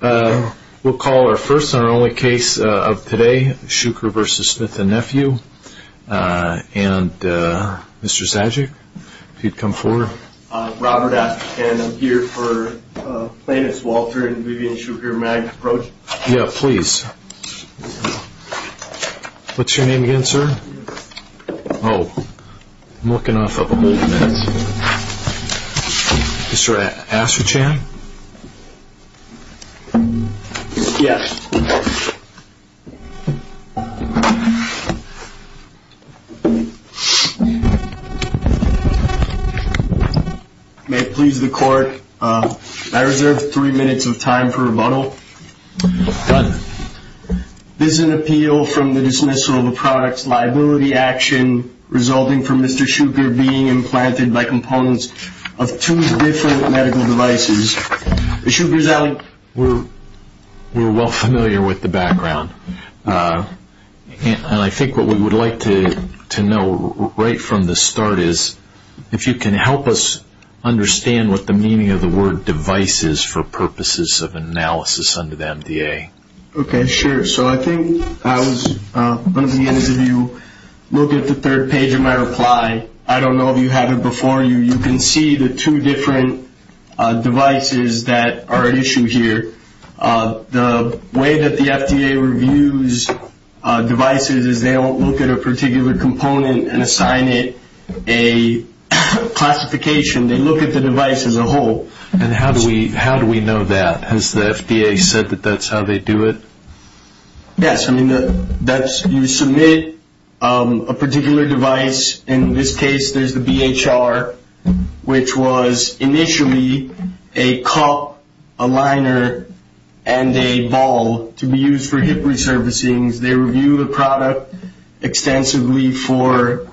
We'll call our first and only case of today, Shuker v. Smith and Nephew, and Mr. Zajic, if you'd come forward. I'm Robert, and I'm here for Thaddeus Walter and Vivian Shuker Mag approach. Yeah, please. What's your name again, sir? Oh, I'm looking off up here. Mr. Astrachan? Yes. May it please the court, I reserve three minutes of time for rebuttal. This is an appeal from the dismissal of a product's liability action resulting from Mr. Shuker being implanted by components of two different medical devices. Mr. Shuker's out. We're well familiar with the background. I think what we would like to know right from the start is if you can help us understand what the meaning of the word device is for purposes of analysis under the FDA. Okay, sure. So I think I was looking at it and you looked at the third page of my reply. I don't know if you had it before. You can see the two different devices that are at issue here. The way that the FDA reviews devices is they won't look at a particular component and assign it a classification. They look at the device as a whole. And how do we know that? Has the FDA said that that's how they do it? Yes. I mean, you submit a particular device. In this case, there's the BHR, which was initially a cup, a liner, and a ball to be used for hip resurfacing. They reviewed the product extensively for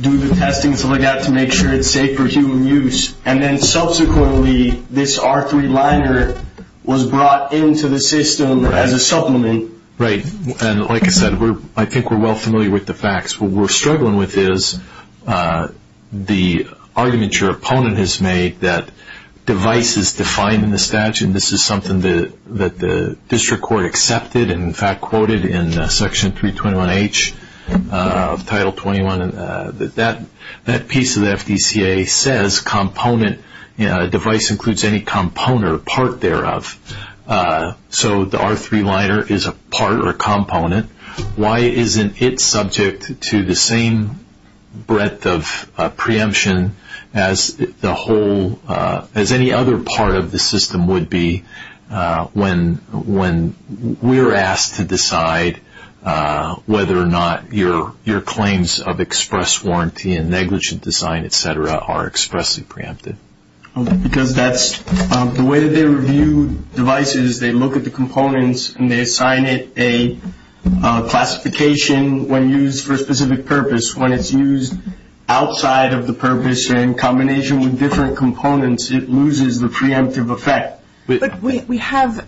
do the testing so they got to make sure it's safe for human use. And then subsequently, this R3 liner was brought into the system as a supplement. Right. And like I said, I think we're well familiar with the facts. What we're struggling with is the argument your opponent has made that device is defined in the statute and this is something that the district court accepted and, in fact, quoted in Section 321H of Title 21. That piece of the FDCA says device includes any component or part thereof. So the R3 liner is a part or a component. Why isn't it subject to the same breadth of preemption as any other part of the system would be when we're asked to decide whether or not your claims of express warranty and negligent design, et cetera, are expressly preempted? Because that's the way they review devices. They look at the components and they assign it a classification when used for a specific purpose. When it's used outside of the purpose in combination with different components, it loses the preemptive effect. But we have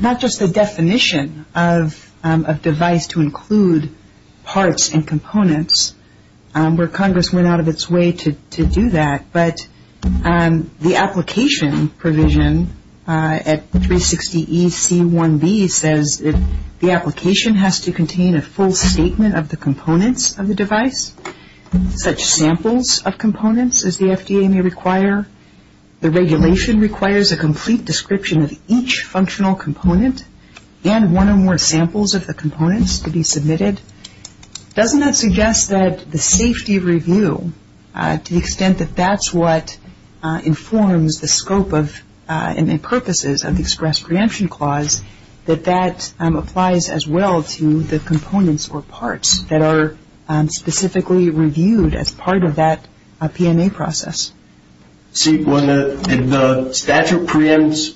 not just the definition of device to include parts and components, where Congress went out of its way to do that, but the application provision at 360EC1B says the application has to contain a full statement of the components of the device, such samples of components as the FDA may require. The regulation requires a complete description of each functional component and one or more samples of the components to be submitted. Doesn't that suggest that the safety review, to the extent that that's what informs the scope and purposes of the express preemption clause, that that applies as well to the components or parts that are specifically reviewed as part of that P&A process? See, when the statute preempts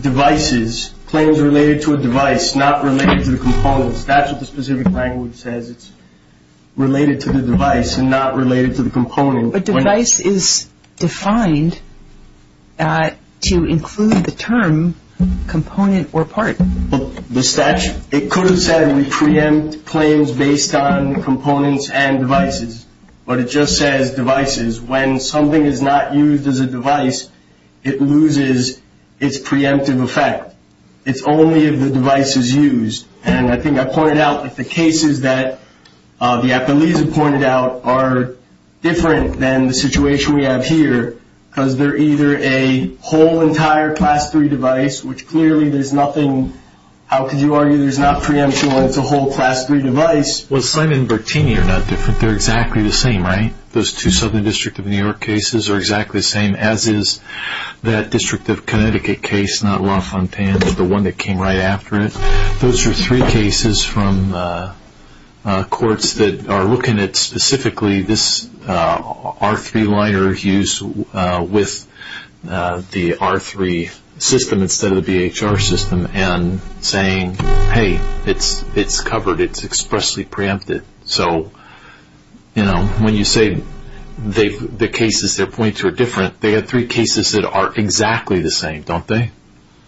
devices, claims related to a device, not related to the components, that's what the specific language says. It's related to the device and not related to the component. But device is defined to include the term component or part. The statute, it could have said we preempt claims based on components and devices, but it just says devices. When something is not used as a device, it loses its preemptive effect. It's only if the device is used. And I think I pointed out that the cases that the application pointed out are different than the situation we have here because they're either a whole entire Class III device, which clearly there's nothing, how could you argue, there's not preemption as a whole Class III device. Well, Slim and Bertini are not different. They're exactly the same, right? Those two Southern District of New York cases are exactly the same, as is that District of Connecticut case, not LaFontaine, but the one that came right after it. Those are three cases from courts that are looking at specifically this R3 liner use with the R3 system instead of the VHR system and saying, hey, it's covered, it's expressly preempted. So, you know, when you say the cases, their points are different, they are three cases that are exactly the same, don't they?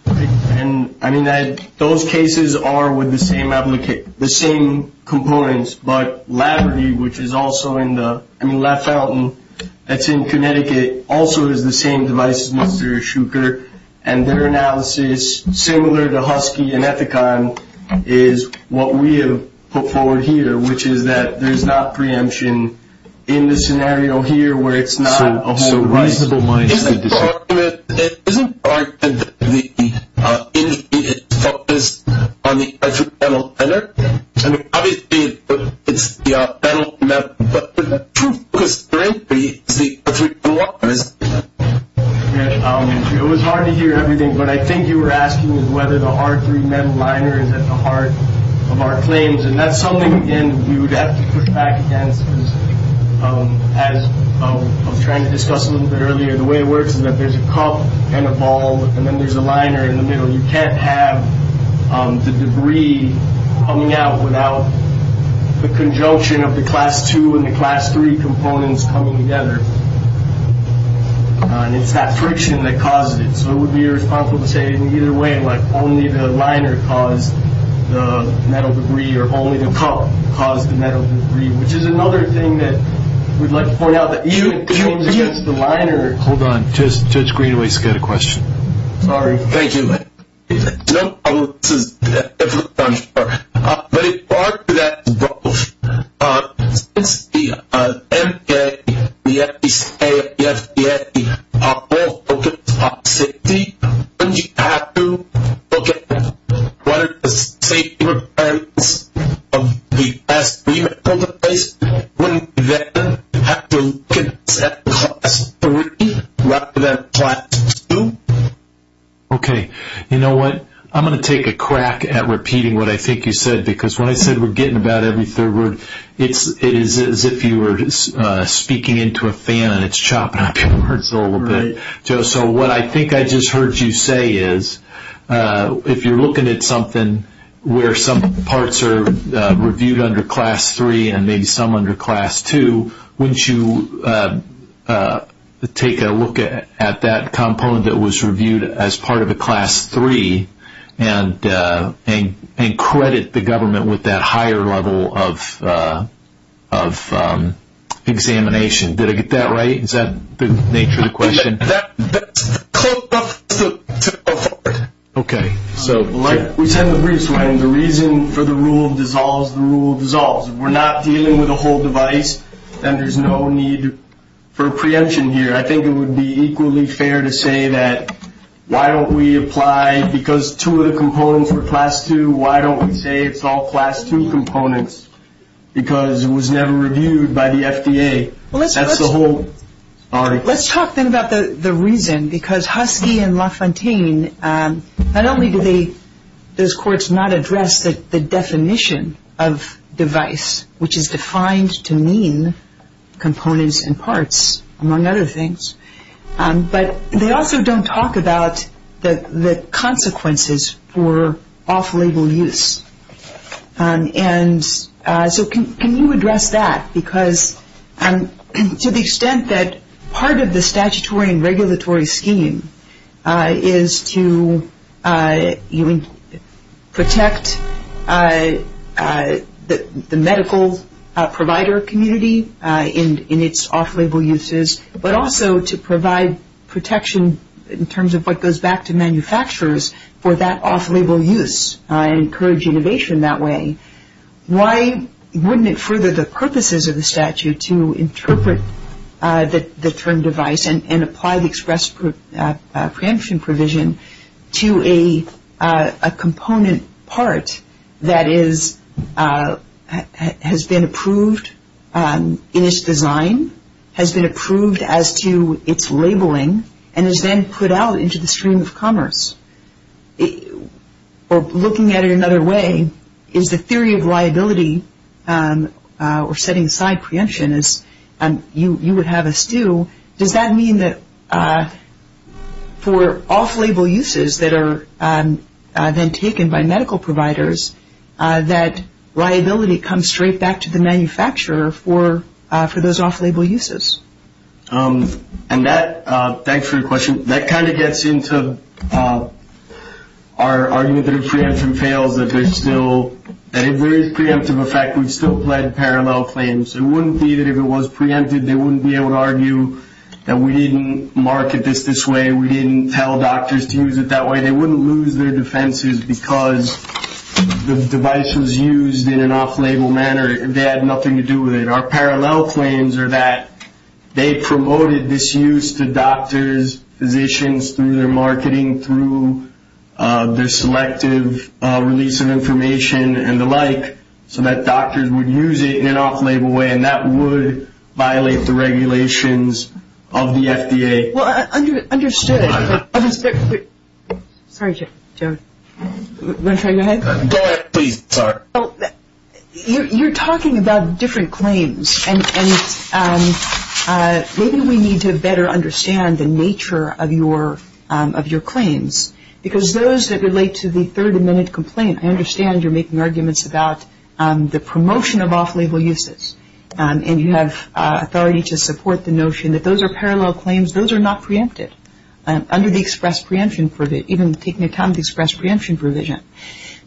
And I mean, those cases are with the same components, but Latterdy, which is also in the, I mean, LaFontaine, that's in Connecticut, also is the same device as Mr. Shuker, and their analysis, similar to Husky and Ethicon, is what we have put forward here, which is that there's not preemption in the scenario here where it's not. Isn't part of the industry is focused on the R3 metal center? I mean, obviously, it's the R3 metal center, but is that true? It was hard to hear everything, but I think you were asking whether the R3 metal liner is at the heart of our claims, and that's something, again, we would have to put back against. As I was trying to discuss a little bit earlier, the way it works is that there's a cup and a ball, and then there's a liner in the middle. You can't have the debris coming out without the conjunction of the Class II and the Class III components coming together, and it's that friction that causes it. So it would be irresponsible to say, well, either way, only the liner caused the metal debris, or only the cup caused the metal debris, which is another thing that we'd like to point out. Hold on. Judge Greenway's got a question. Sorry. Thank you. John, I want to get a response first. As far as that goes, since the MBA, the SBCA, the SBSE are all focused on safety, wouldn't you have to look at one of the state requirements of the SBSE? Wouldn't that mean you have to look at the class III rather than Class II? Okay. You know what? I'm going to take a crack at repeating what I think you said, because when I said we're getting about every third word, it's as if you were speaking into a fan and it's chopping up your words a little bit. So what I think I just heard you say is if you're looking at something where some parts are reviewed under Class III and maybe some under Class II, wouldn't you take a look at that component that was reviewed as part of the Class III and credit the government with that higher level of examination? Did I get that right? Is that the nature of the question? Okay. Okay. So like we said in the briefs, when the reason for the rule dissolves, the rule dissolves. If we're not dealing with a whole device, then there's no need for a preemption here. I think it would be equally fair to say that why don't we apply, because two of the components were Class II, why don't we say it's all Class II components because it was never reviewed by the FDA? That's the whole article. Let's talk then about the reason because Husky and LaFontaine, not only do they, those courts, not address the definition of device, which is defined to mean components and parts, among other things, but they also don't talk about the consequences for off-label use. And so can you address that because to the extent that part of the statutory and regulatory scheme is to protect the medical provider community in its off-label uses, but also to provide protection in terms of what goes back to manufacturers for that off-label use and encourage innovation that way, why wouldn't it further the purposes of the statute to interpret the term device and apply the express preemption provision to a component part that has been approved in its design, has been approved as to its labeling, and is then put out into the stream of commerce or looking at it another way, is the theory of liability or setting aside preemption as you would have us do, does that mean that for off-label uses that are then taken by medical providers, that liability comes straight back to the manufacturer for those off-label uses? And that, thanks for the question, that kind of gets into our argument that if preemption fails, that there's still a very preemptive effect. We still have parallel claims. It wouldn't be that if it was preempted, they wouldn't be able to argue that we didn't mark it this way, we didn't tell doctors to use it that way. They wouldn't lose their defenses because the device was used in an off-label manner. They had nothing to do with it. And our parallel claims are that they promoted this use to doctors, physicians, through their marketing, through their selective release of information and the like so that doctors would use it in an off-label way, and that would violate the regulations of the FDA. Well, I understood it. Sorry, Joe. Want to try again? Go ahead, please. Sorry. Well, you're talking about different claims, and maybe we need to better understand the nature of your claims because those that relate to the third amendment complaint, I understand you're making arguments about the promotion of off-label uses, and you have authority to support the notion that those are parallel claims. Those are not preemptive under the express preemption provision, even taking into account the express preemption provision.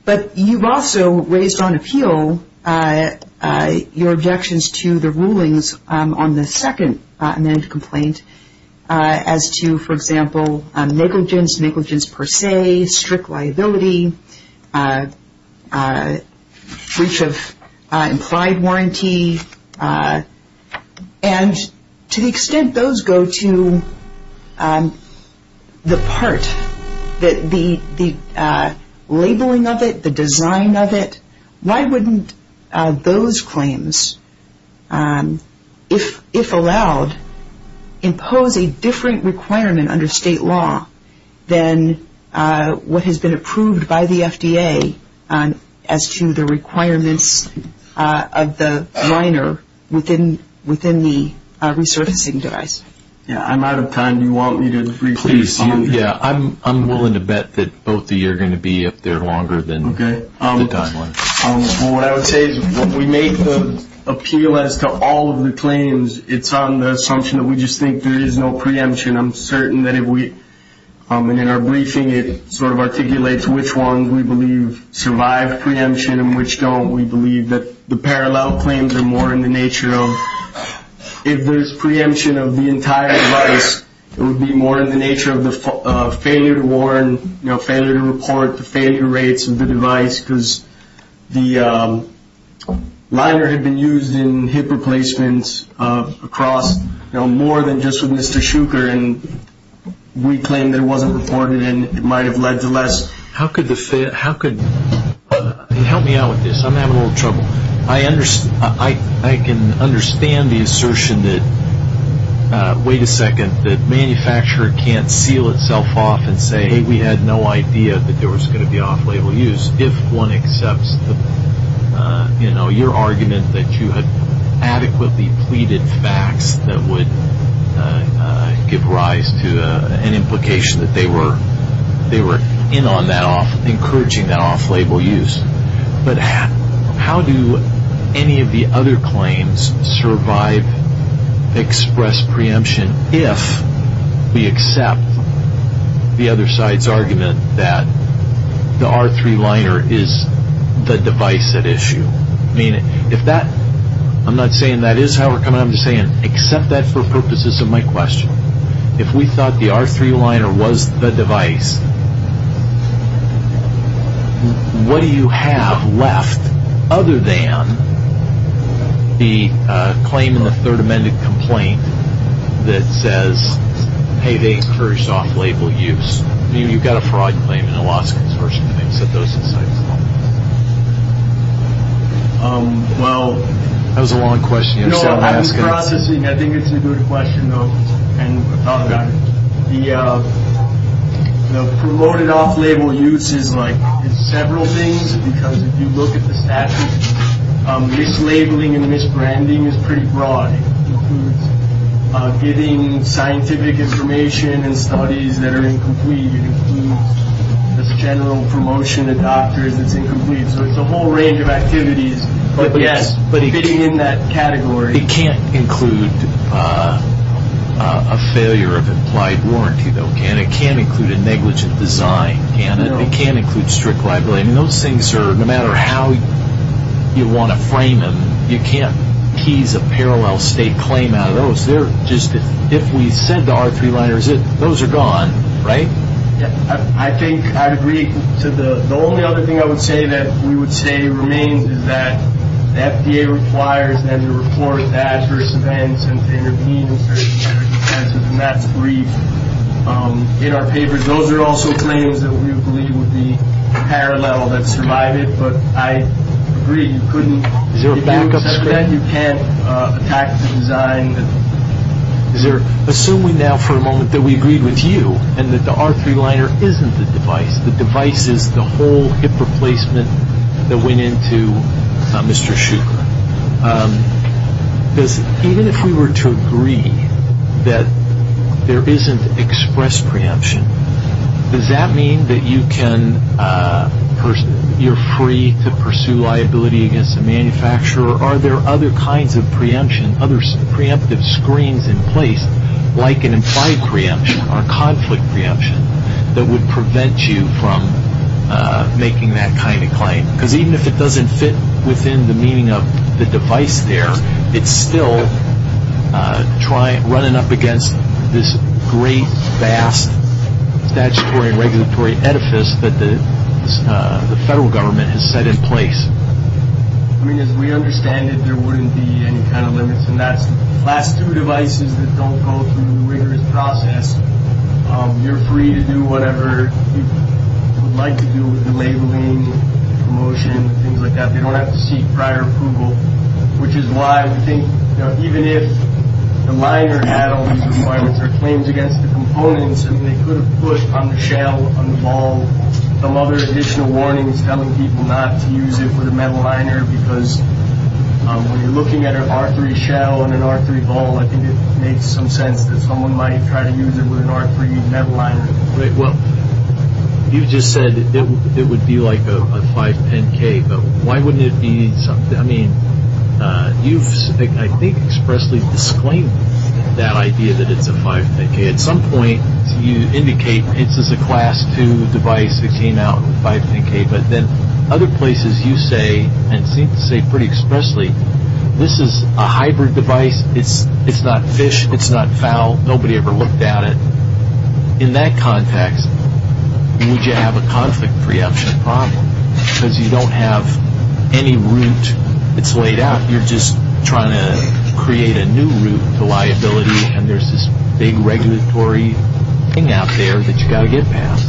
But you've also raised on appeal your objections to the rulings on the second amendment complaint as to, for example, negligence, negligence per se, strict liability, breach of implied warranty, and to the extent those go to the part, the labeling of it, the design of it, why wouldn't those claims, if allowed, impose a different requirement under state law than what has been approved by the FDA as to the requirements of the minor within the resourcing device? Yeah, I'm out of time. Do you want me to brief you? Please, yeah. I'm willing to bet that both of you are going to be up there longer than the time limit. Okay. Well, what I would say is when we make the appeal as to all of the claims, it's on the assumption that we just think there is no preemption. I'm certain that in our briefing it sort of articulates which ones we believe survive preemption and which don't. We believe that the parallel claims are more in the nature of if there's preemption of the entire device, it would be more in the nature of the failure to report, the failure rates of the device, because the liner had been used in hip replacements across, you know, more than just with Mr. Schucher, and we claimed it wasn't reported and it might have led to less. How could the failure, how could, help me out with this, I'm having a little trouble. I can understand the assertion that, wait a second, that manufacturer can't seal itself off and say, hey, we had no idea that there was going to be off-label use. If one accepts, you know, your argument that you had adequately pleaded facts that would give rise to an implication that they were in on that off, encouraging that off-label use, but how do any of the other claims survive express preemption if we accept the other side's argument that the R3 liner is the device at issue? I mean, if that, I'm not saying that is however, I'm just saying accept that for purposes of my question. If we thought the R3 liner was the device, what do you have left other than the claim in the third amended complaint that says, hey, they encouraged off-label use? I mean, you've got a fraud claim and a loss of consortium, you can set those aside. Well, that was a long question. No, I was processing. I think it's a good question, though, and the promoted off-label use is like several things, because if you look at the statute, mislabeling and misbranding is pretty broad. It includes giving scientific information and studies that are incomplete. It includes the general promotion to doctors as incomplete. So it's a whole range of activities. But fitting in that category. It can't include a failure of implied warranty, though, and it can't include a negligent design, and it can't include strict liability. Those things are, no matter how you want to frame them, you can't tease a parallel state claim out of those. They're just, if we sent the R3 liners, those are gone, right? I think I agree. The only other thing I would say that we would say remains is that the FDA requires them to report adverse events since they were deemed to be adverse events, and that's agreed in our papers. Those are also claims that we believe would be parallel that's provided, but I agree you couldn't. You can't attack the design. Assuming now for a moment that we agree with you and that the R3 liner isn't the device, the device is the whole hip replacement that went into Mr. Schuchat. Even if we were to agree that there isn't express preemption, does that mean that you can, you're free to pursue liability against the manufacturer? Or are there other kinds of preemption, other preemptive screens in place, like an implied preemption or a conflict preemption that would prevent you from making that kind of claim? Even if it doesn't fit within the meaning of the device there, it's still running up against this great, vast statutory and regulatory edifice that the federal government has set in place. I mean, as we understand it, there wouldn't be any kind of limits. And that's the last two devices that don't go through the rigorous process. You're free to do whatever you would like to do with the labeling, promotion, things like that. They don't have to seek prior approval, which is why we think, you know, even if the liner had all these requirements or claims against the components, and they could have put on the shell, on the ball, some other additional warning telling people not to use it with a metal liner, because when you're looking at an R3 shell and an R3 ball, I think it makes some sense that someone might try to use it with an R3 metal liner. Well, you just said it would be like a 510K, but why wouldn't it be something, I mean, you just, I think, expressly disclaimed that idea that it's a 510K. At some point, you indicate this is a Class II device that came out in a 510K, but then other places you say, and seem to say pretty expressly, this is a hybrid device. It's not fish, it's not fowl, nobody ever looked at it. In that context, you need to have a conflict preemption problem, because you don't have any root that's laid out. You're just trying to create a new root for liability, and there's this big regulatory thing out there that you've got to get past.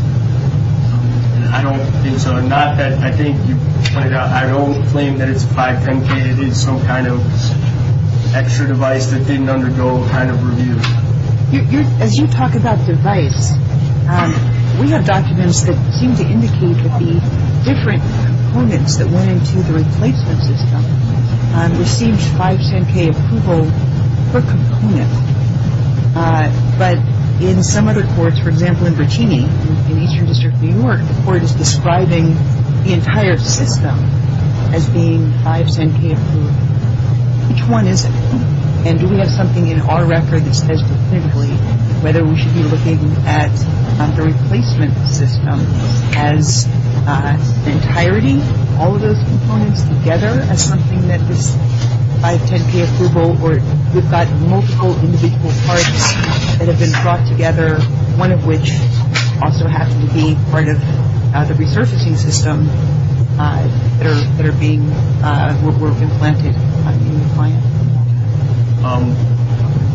I don't think so. Not that I think you put it out. I don't claim that it's a 510K. It's some kind of extra device that didn't undergo a kind of review. As you talk about device, we have documents that seem to indicate that the different components that went into the replacement system received 510K approval per component. But in some other courts, for example, in Virginia, in Eastern District of New York, the court is describing the entire system as being 510K approved. Which one is it? And do we have something in our record that states specifically whether we should be looking at the replacement system and the entirety of all those components together as something that is 510K approval or we've got multiple individual parts that have been brought together, one of which also has to be part of the resurfacing system that are being implemented at this point?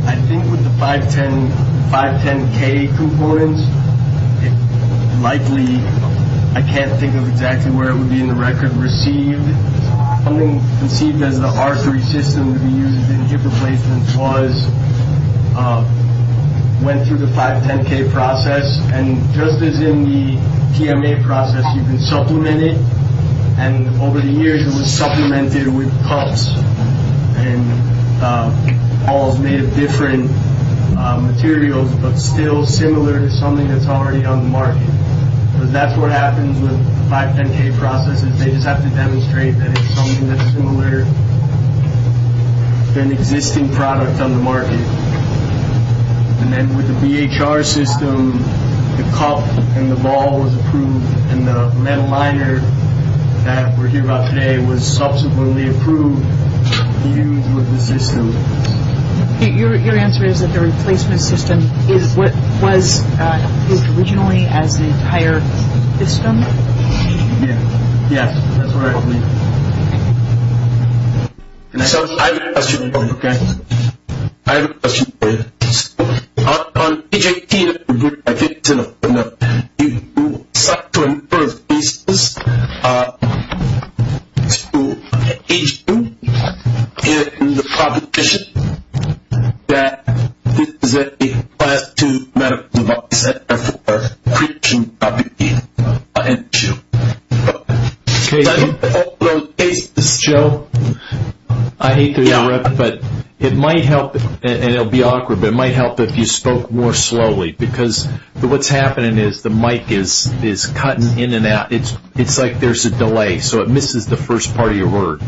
I think with the 510K components, it's likely I can't think of exactly where it would be in the record received. Something that the R3 system we used in the replacement was went through the 510K process and just as in the TMA process, you can supplement it. And over the years, it was supplemented with parts. And all made of different materials but still similar to something that's already on the market. So that's what happens with 510K processes. They just have to demonstrate that it's something that's similar to an existing product on the market. And then with the VHR system, the cup and the ball was approved and the lead aligner that we're talking about today was subsequently approved. Your answer is that the replacement system is what was originally at the entire system? Yes, that's correct. Thank you. I have a question for you. I have a question for you. On the VHR system, you said on the first basis, in the competition, that this is a bad to medical device as far as creating competition. Okay. Joe, I hate to interrupt, but it might help, and it'll be awkward, but it might help if you spoke more slowly because what's happening is the mic is cutting in and out. It's like there's a delay, so it misses the first part of your word.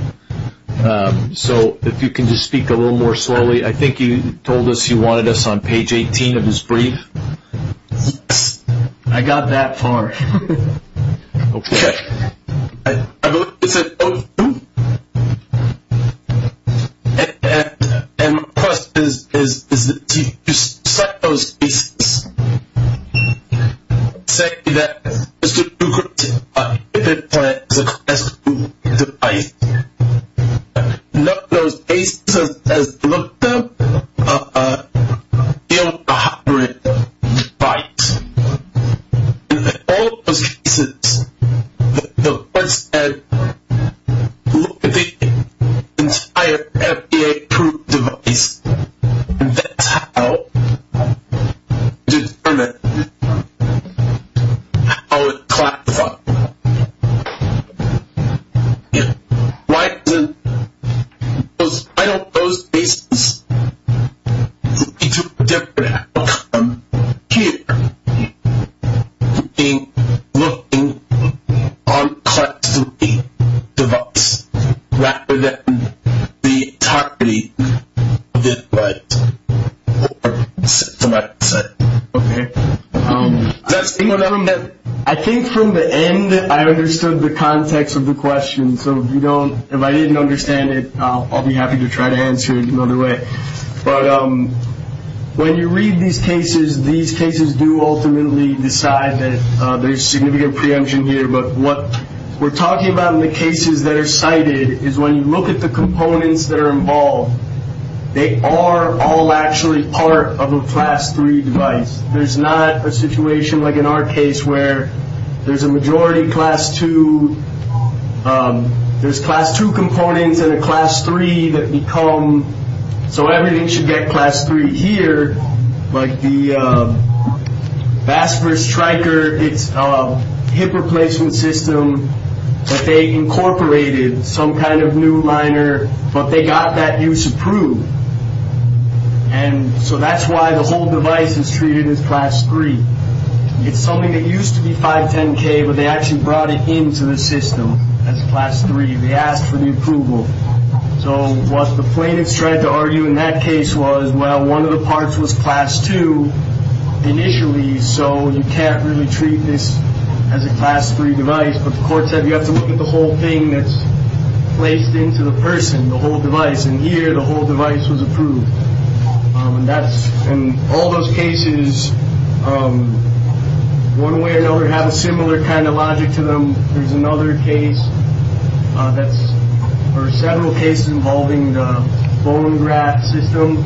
So if you can just speak a little more slowly. I think you told us you wanted us on page 18 of this brief. I got that far. Okay. I believe this is O2. And my question is, you said on the first basis, you said that this is a bad to medical device, and on the first basis, you said that this is a bad to medical device as far as creating competition. Okay. And my question is, and on the first basis, on the first basis, you said that this is a bad to medical device as far as creating competition. you said that this is a bad to medical device as far as creating competition. Okay. I think from the end, I understood the context of the question. So if I didn't understand it, I'll be happy to try to answer it another way. But when you read these cases, these cases do ultimately decide that there's significant preemption here. But what we're talking about in the cases that are cited is when you look at the components that are involved, they are all actually part of a Class 3 device. There's not a situation like in our case where there's a majority Class 2. There's Class 2 components and a Class 3 that become, so everything should get Class 3 here, but the VASPR striker, its hip replacement system, that they incorporated some kind of new liner, but they got that use approved. And so that's why the whole device is treated as Class 3. It's something that used to be 510K, but they actually brought it into the system as Class 3. They asked for the approval. So what the plaintiffs tried to argue in that case was, well, one of the parts was Class 2 initially, so you can't really treat this as a Class 3 device. But the court said you have to look at the whole thing that's placed into the person, the whole device, and here the whole device was approved. And all those cases, one way or another, have a similar kind of logic to them. There's another case, there were several cases involving the bone graft system,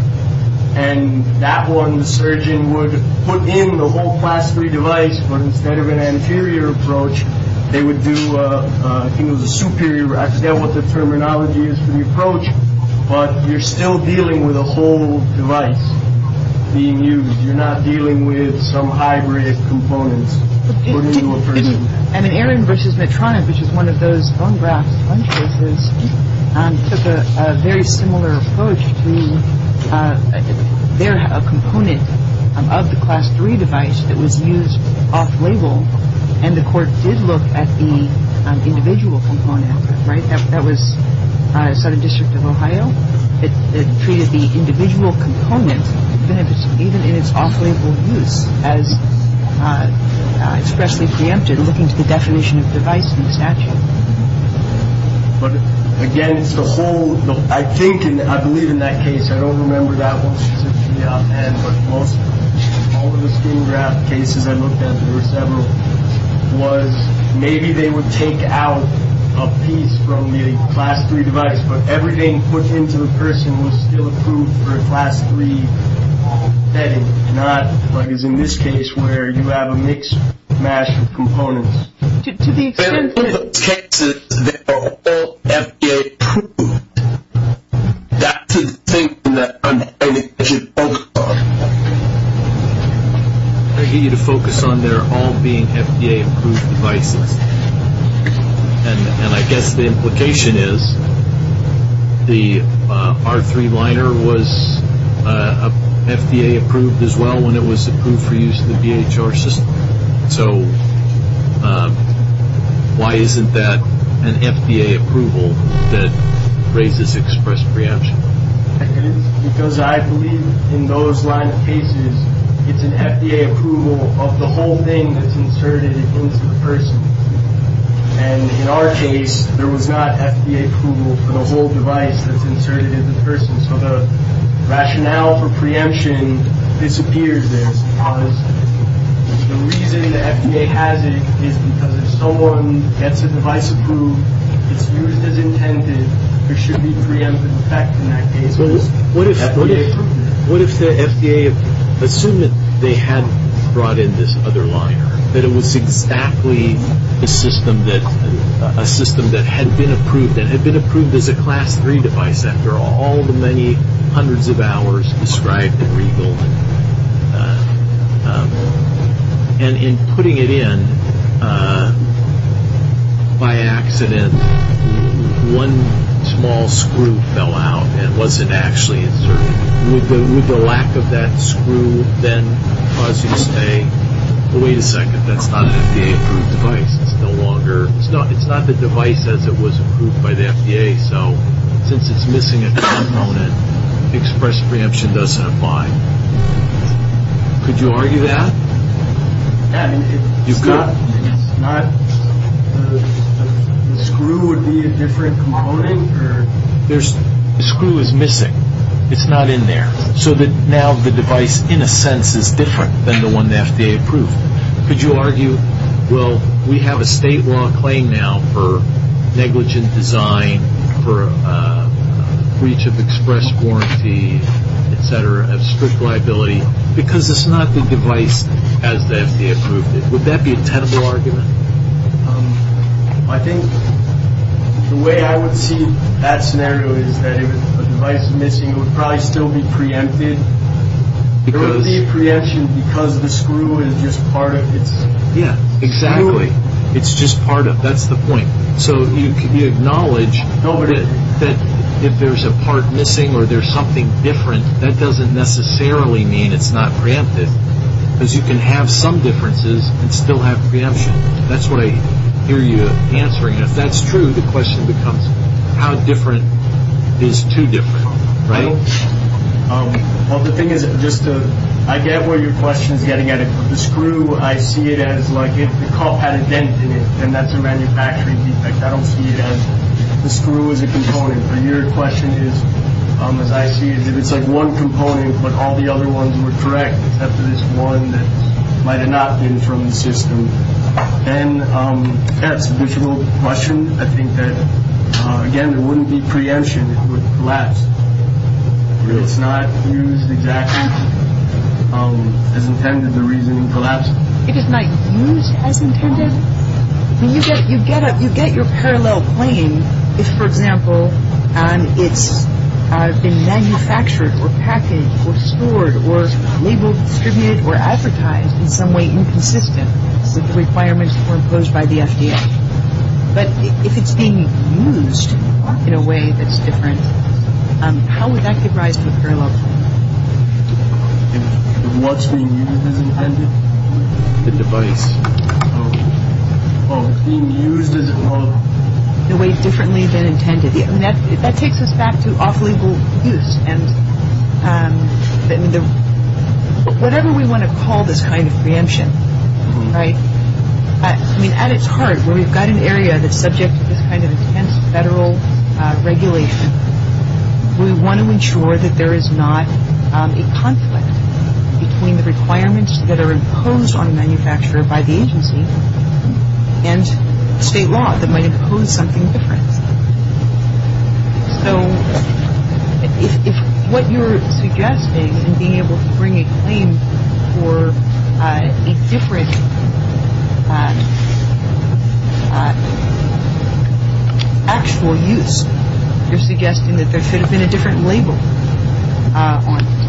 and that one surgeon would put in the whole Class 3 device, but instead of an anterior approach, they would do the superior. I forget what the terminology is for the approach, but you're still dealing with a whole device being used. You're not dealing with some hybrid component. And Aaron versus Medtronic, which is one of those bone grafts, took a very similar approach to their component of the Class 3 device that was used off-label, and the court did look at the individual component. Right? That was Southern District of Ohio. It treated the individual component, then it was treated in its off-label use, and especially preempted looking at the definition of device and statute. Again, the whole- I think, I believe in that case, I don't remember that one, but most of the bone graft cases I looked at, there were several, was maybe they would take out a piece from the Class 3 device, but everything put into the person was still approved for a Class 3 setting. It's not like it's in this case where you have a mixed match of components. There's objectives that are all FDA approved. That's the thing that I'm trying to focus on. I need you to focus on there all being FDA approved devices, and I guess the implication is the R3 liner was FDA approved as well when it was approved for use in the BHR system, so why isn't that an FDA approval that raises express preemption? Because I believe in those line of cases, it's an FDA approval of the whole thing that's inserted into the person, and in our case, there was not FDA approval for the whole device that's inserted into the person, so the rationale for preemption disappears. The reason the FDA has it is because if someone gets a device approved, if it's used as intended, there should be preemptive effect in that case. What if the FDA assumed that they had brought in this other liner, that it was exactly a system that had been approved, and had been approved as a Class 3 device after all the many hundreds of hours described in the report, and in putting it in, by accident, one small screw fell out and wasn't actually inserted. Would the lack of that screw then cause you to say, wait a second, that's not an FDA approved device any longer. It's not the device that was approved by the FDA, so since it's missing a component, express preemption doesn't apply. Could you argue that? I mean, it's not the screw would be a different component? The screw is missing. It's not in there. So now the device, in a sense, is different than the one the FDA approved. Could you argue, well, we have a state law claim now for negligent design, for breach of express warranty, et cetera, and strict liability, because it's not the device as the FDA approved it. Would that be a tenable argument? I think the way I would see that scenario is that if a device is missing, it would probably still be preempted. Preemption because of the screw and just part of it? Yeah, exactly. It's just part of it. That's the point. So you acknowledge that if there's a part missing or there's something different, that doesn't necessarily mean it's not preempted, because you can have some differences and still have preemption. That's what I hear you answering. If that's true, the question becomes how different is too different, right? Well, the thing is, I get where your question is getting at. The screw, I see it as like if the cup had a dent in it and that's a manufacturing defect, I don't see it as the screw as a component. Your question is, I see it as if it's like one component, but all the other ones were correct, except for this one that might have not been from the system. Then, yes, the visual question, I think that, again, there wouldn't be preemption. It would collapse. It's not used exactly as intended, the reason it collapsed. It is not used as intended. You get your parallel claim if, for example, it's been manufactured or packaged or stored or legally distributed or advertised in some way inconsistent with the requirements imposed by the FDA. But if it's being used in a way that's different, how would that be recognized as parallel? That takes us back to operable use. Whatever we want to call this kind of preemption, right, at its heart, where we've got an area that's subject to this kind of intense federal regulation, we want to ensure that there is not a conflict between the requirements that are imposed on a manufacturer by the agency and state law that might impose something different. So, if what you're suggesting in being able to bring a claim for a different actual use, you're suggesting that there could have been a different label on it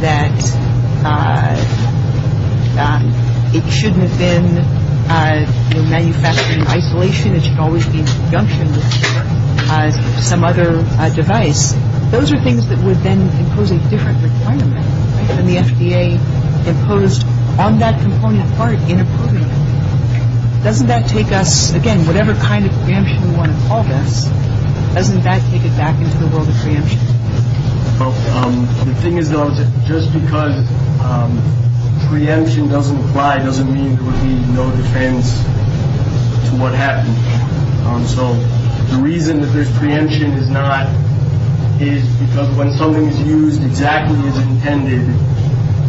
that should always be in conjunction with some other device, those are things that would then impose a different requirement than the FDA imposed on that component part in a program. Doesn't that take us, again, whatever kind of preemption we want to call this, doesn't that take it back into the world of preemption? The thing is, though, just because preemption doesn't apply, doesn't mean that we don't depend on what happens. So, the reason that this preemption does not is because when something is used exactly as intended,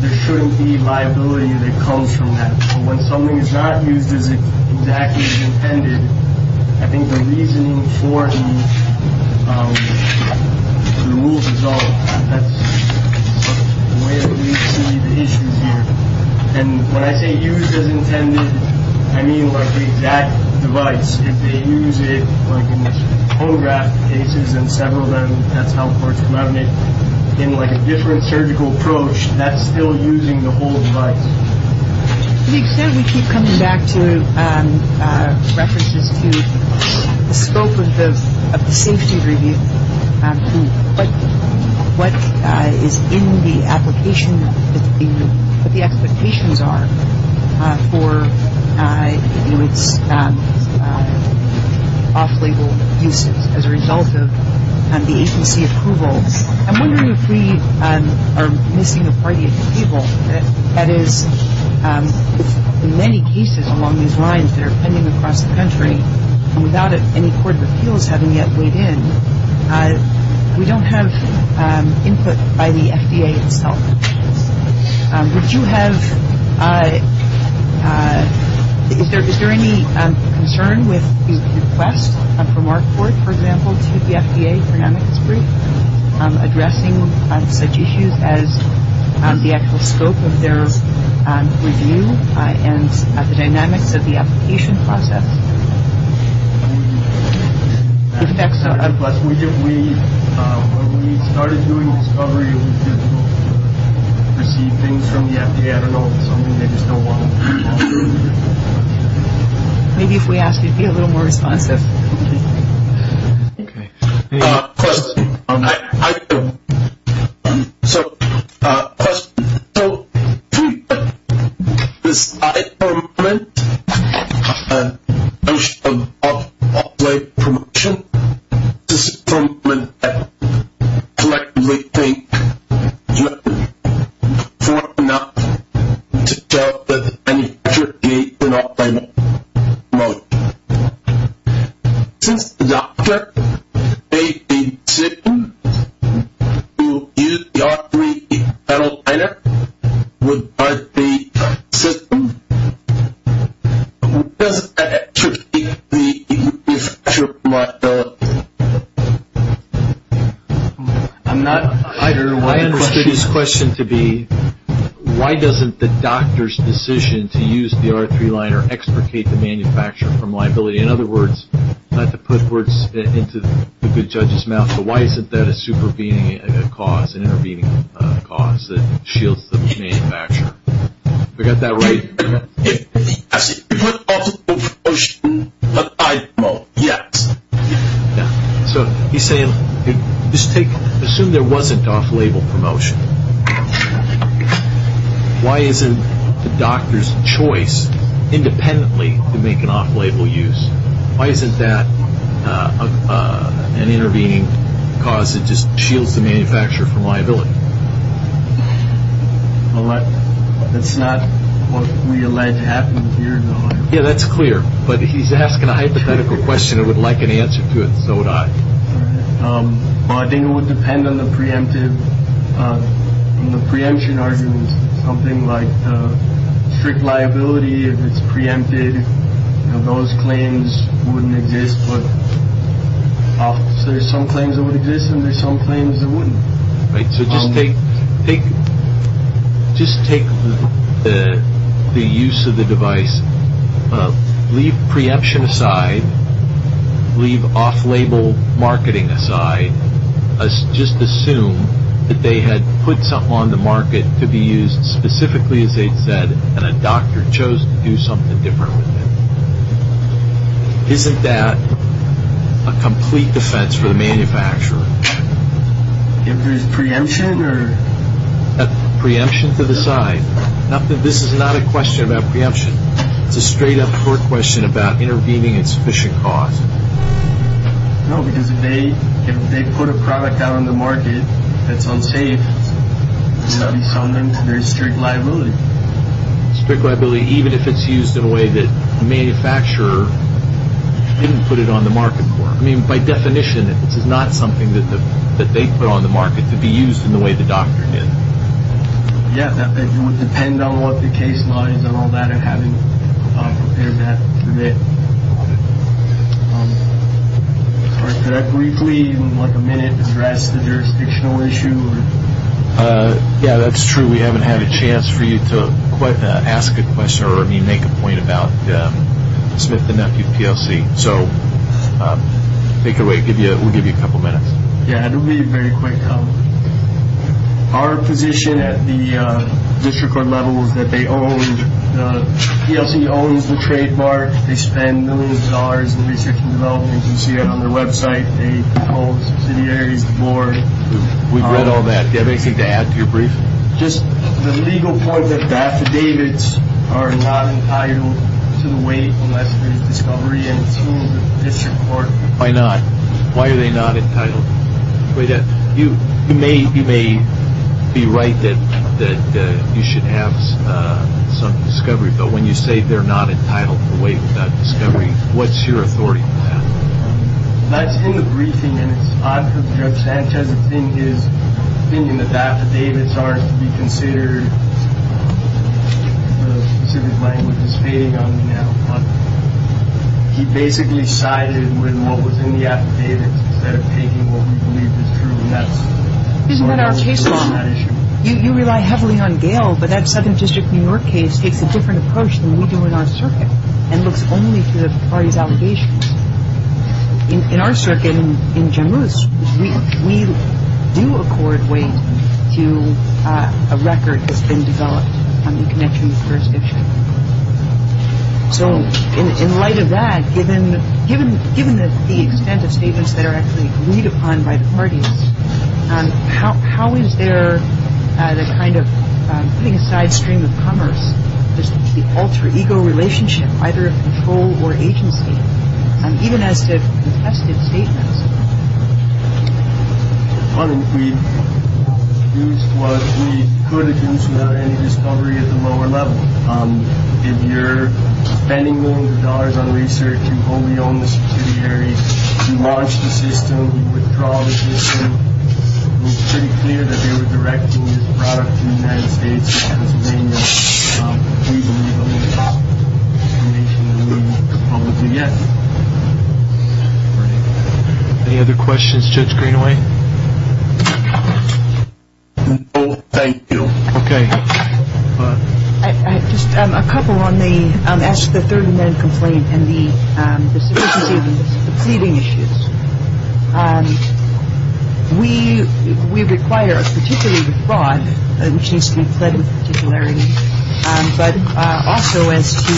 there shouldn't be liability that comes from that. So, when something is not used as exactly as intended, I think the reason for it is the rules of law. That's where we see the patient here. And when I say used as intended, I mean like the exact device. If they use it on photograph cases and several of them at Alport Clinic in like a different surgical approach, that's still using the whole device. We keep coming back to references to the scope of the safety review and what is in the application, what the expectations are for, you know, off-label use as a result of the ACC approval. I'm wondering if we are making the argument to people that in many cases along these lines that are pending across the country without any courts of appeals having yet weighed in, we don't have input by the FDA itself. Would you have-is there any concern with the request from our court, for example, to the FDA to address such issues as the actual scope of their review and the dynamics of the application process? Yes. And plus, when we started doing discovery, we just received things from the FDA. I don't know if it's something that needs to go on. Maybe if we ask you to be a little more responsive. Okay. Question. So, question. So, please, this is Tony Flynn. I'm from the Office of Off-Label Promotion. This is Tony Flynn at Collectively Clinic, New York City. We want to not to tell that any FDA did not find it wrong. Since the doctor made the decision to use the R3 liner without the system, doesn't that contradict the manufacturer model? I'm not entirely sure. I understood his question to be, why doesn't the doctor's decision to use the R3 liner extricate the manufacturer from liability? In other words, not to put words into the good judge's mouth. So, why isn't that a supervening cause, an intervening cause that shields the manufacturer? We got that right? The Office of Off-Label Promotion did not find it wrong. Yes. So, he's saying, assume there wasn't off-label promotion. Why isn't the doctor's choice independently to make an off-label use? Why isn't that an intervening cause that just shields the manufacturer from liability? That's not what we allege happened here, no. Yeah, that's clear. But he's asking a hypothetical question. I would like an answer to it. No, I don't. Well, I think it would depend on the preemption argument. Something like strict liability, if it's preempted, those claims wouldn't exist. But there's some claims that would exist and there's some claims that wouldn't. So, just take the use of the device. Leave preemption aside. Leave off-label marketing aside. Just assume that they had put something on the market to be used specifically, as they said, and a doctor chose to do something different with it. Isn't that a complete defense for the manufacturer? If there's preemption? Preemption for the side. This is not a question about preemption. It's a straight-up court question about intervening at sufficient cost. No, because if they put a product out on the market that's unsafe, does that become their strict liability? Strict liability, even if it's used in a way that the manufacturer didn't put it on the market for. I mean, by definition, this is not something that they put on the market to be used in the way the doctor did. Yeah, that would depend on what the case lines and all that are having to do with it. Could I briefly, like a minute, address the jurisdictional issue? Yeah, that's true. We haven't had a chance for you to quite ask a question or, I mean, make a point about Smith & Nephew TLC. So take it away. We'll give you a couple minutes. Yeah, it'll be very quick. Our position at the district court level is that they own, TLC owns the trademark. They spend millions of dollars in research and development. You can see that on their website. They hold subsidiaries, boards. We've read all that. Do you have anything to add to your brief? Just the legal part of the affidavits are not entitled to the weight of that discovery and to the district court. Why not? Why are they not entitled? You may be right that you should have some discovery, but when you say they're not entitled to the weight of that discovery, what's your authority? I've seen the briefing, and it's odd that the representative is thinking that the affidavits aren't to be considered, because his language is vague on behalf of the public. He basically sided with what was in the affidavit instead of taking what we believe is truly necessary. Isn't that our case? You rely heavily on Gale, but that second district New York case takes a different approach than we do in our circuit and looks only to the party's allegations. In our circuit, in Jammus, we do accord weight to a record that's been developed on the connection jurisdiction. So, in light of that, given the extent of statements that are actually agreed upon by parties, how is there a kind of painstaking stream of commerce, just an alter ego relationship, either of control or agency, even as they contested statements? One of the issues was we couldn't reach without any discovery at the lower level. If you're spending millions of dollars on research, you only own the security, you launch the system, you withdraw the system. It was pretty clear that they were directing this product to the United States and that's when we were able to reach the limits of what we were proposing. Any other questions, Judge Greenaway? No, thank you. Just a couple on the third amendment complaint and the pleading issues. We require a particular defraud, it seems to be said in particularity, but also as to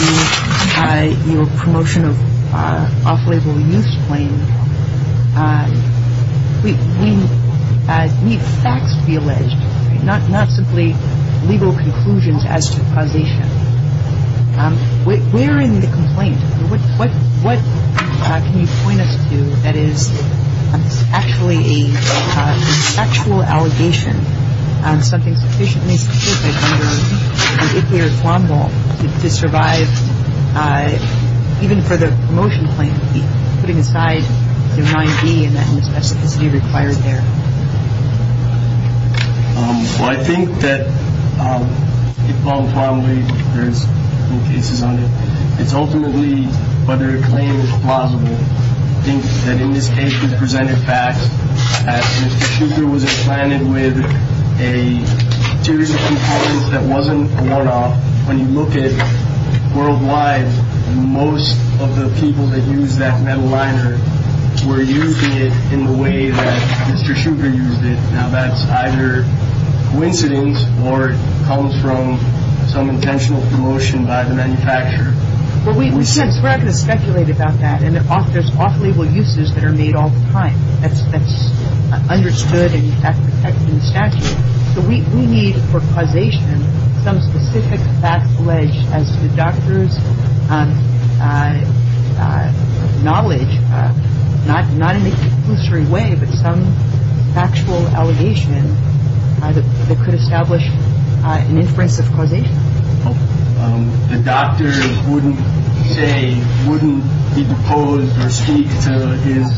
your promotion of off-label use claims. We need facts to be alleged, not simply legal conclusions as to causation. Where in the complaint, what can you point us to that is actually an actual allegation, and something sufficiently specific, particularly a defraud law, that survives even for the promotion claim to be put aside in line B and that sort of thing to be required there? Well, I think that it's ultimately whether a claim is plausible. I think that in this case we presented facts. Mr. Shuker was planted with a series of complaints that wasn't a one-off. When you look at worldwide, most of the people that used that metal liner were using it in the way that Mr. Shuker used it. Now, that's either coincidence or it comes from some intentional promotion by the manufacturer. Well, we can't directly speculate about that, and there's off-label uses that are made all the time, that's understood and in fact protected in statute. So, we need for causation some specific facts alleged as to doctor's knowledge, not in a conclusory way, but some factual allegation that could establish an inference of causation. The doctor wouldn't say, wouldn't propose or speak to his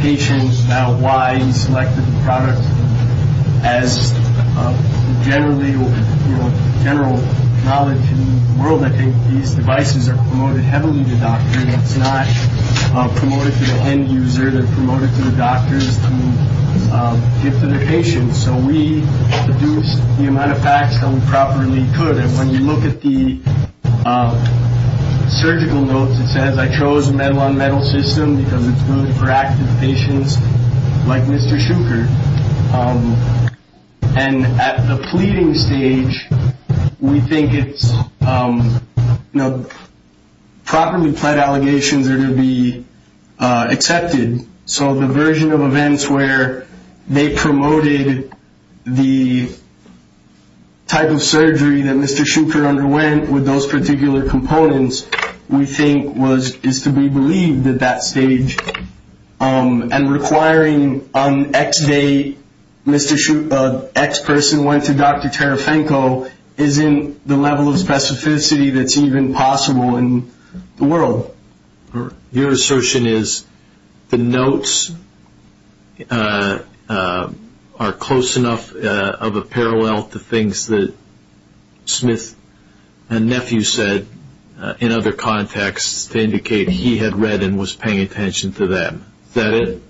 patients about why he selected the product as generally or general knowledge in the world. I think these devices are promoted heavily to doctors, not promoted to the end user, they're promoted to the doctors who get them to patients. So, we produced the amount of facts that we properly could. When you look at the surgical notes, it says, I chose the metal-on-metal system because it's good for active patients like Mr. Shuker. And at the pleading stage, we think it's properly pled allegations that are to be accepted. So, the version of events where they promoted the type of surgery that Mr. Shuker underwent with those particular components, we think is to be believed at that stage. And requiring on X day, Mr. Shuker, X person went to Dr. Tarafenko, isn't the level of specificity that's even possible in the world. Your assertion is the notes are close enough of a parallel to things that Smith and Nephew said in other contexts to indicate he had read and was paying attention to them. Is that it?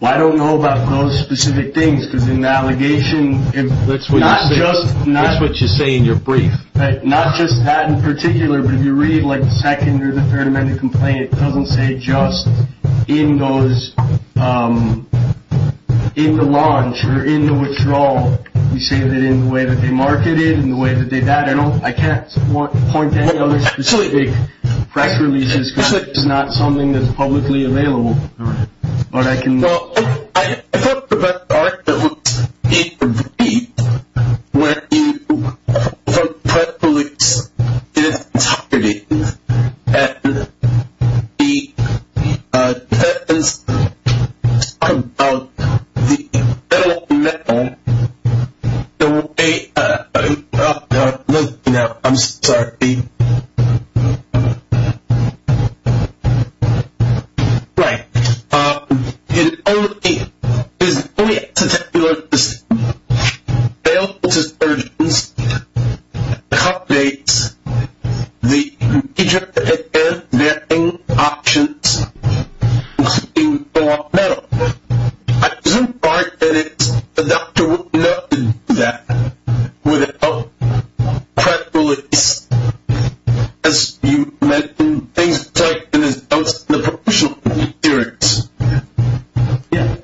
Well, I don't know about those specific things. There's an allegation. That's what you say in your brief. Not just that in particular, but if you read like the second or the third minute complaint, it doesn't say just in the launch or in the withdrawal. You say that in the way that they marketed it and the way that they got it. I can't point to anything specifically, practically just because it's not something that's publicly available. What I can- Well, I thought the best argument would be for the brief, when you quote President Kennedy and the sentence on the end of the letter, the way- No, no, I'm sorry. Right. It's only- It's only a particular- It's only a part of it. Yes,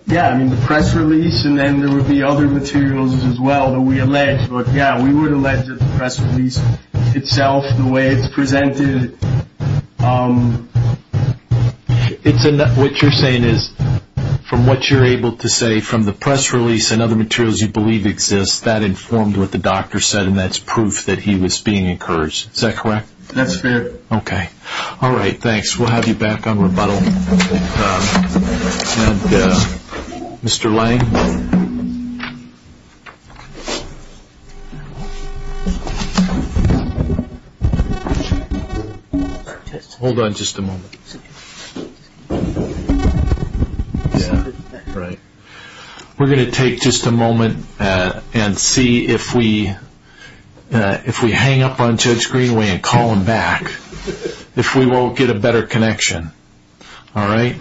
yes. I mean, the press release and then there would be other materials as well that we allege. But, yeah, we would allege that the press release itself, the way it's presented- What you're saying is from what you're able to say from the press release and other materials you believe exist, that informed what the doctor said, and that's proof that he was being encouraged. Is that correct? That's fair. Okay. All right, thanks. We'll have you back on rebuttal. And Mr. Lange? Hold on just a moment. Yeah, right. We're going to take just a moment and see if we hang up on Judge Greenway and call him back, if we won't get a better connection. All right?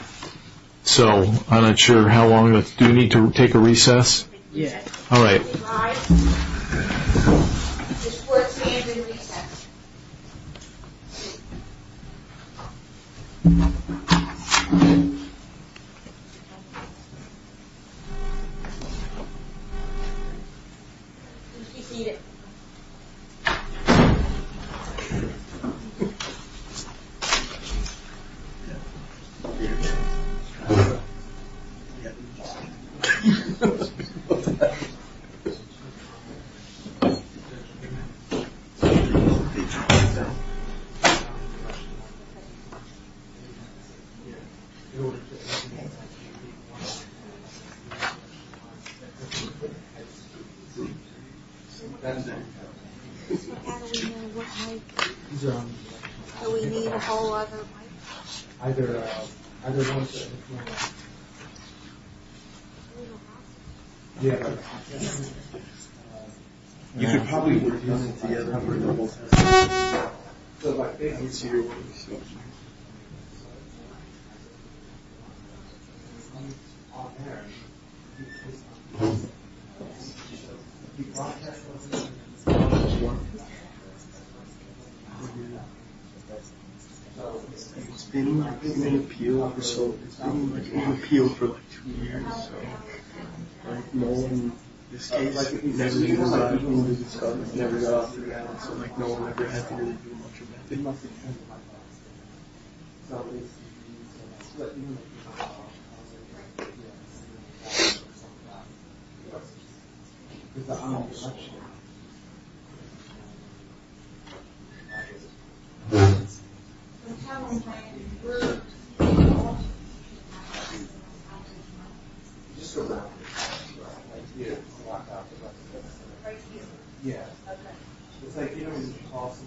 So I'm not sure how long. Do we need to take a recess? Yes. All right. All right. Just work through your recess. You can keep eating. Thank you. Do we need all of them? You can probably get them together. It's been an appeal for two years. It's like no one ever had to really do much about it. It's a house. It's a house. Yeah. It's a house. Yeah. It's a house.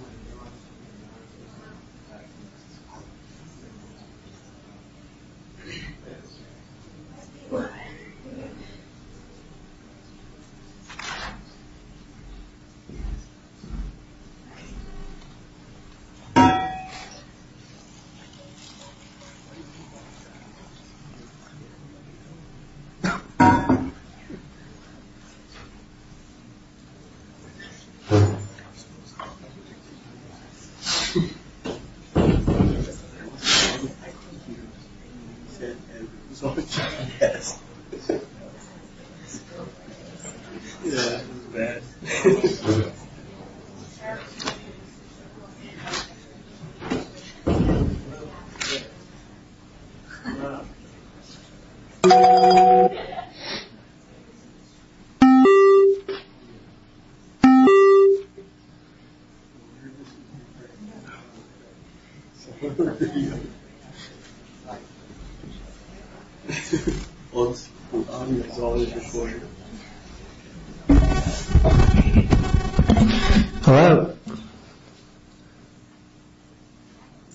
Hello?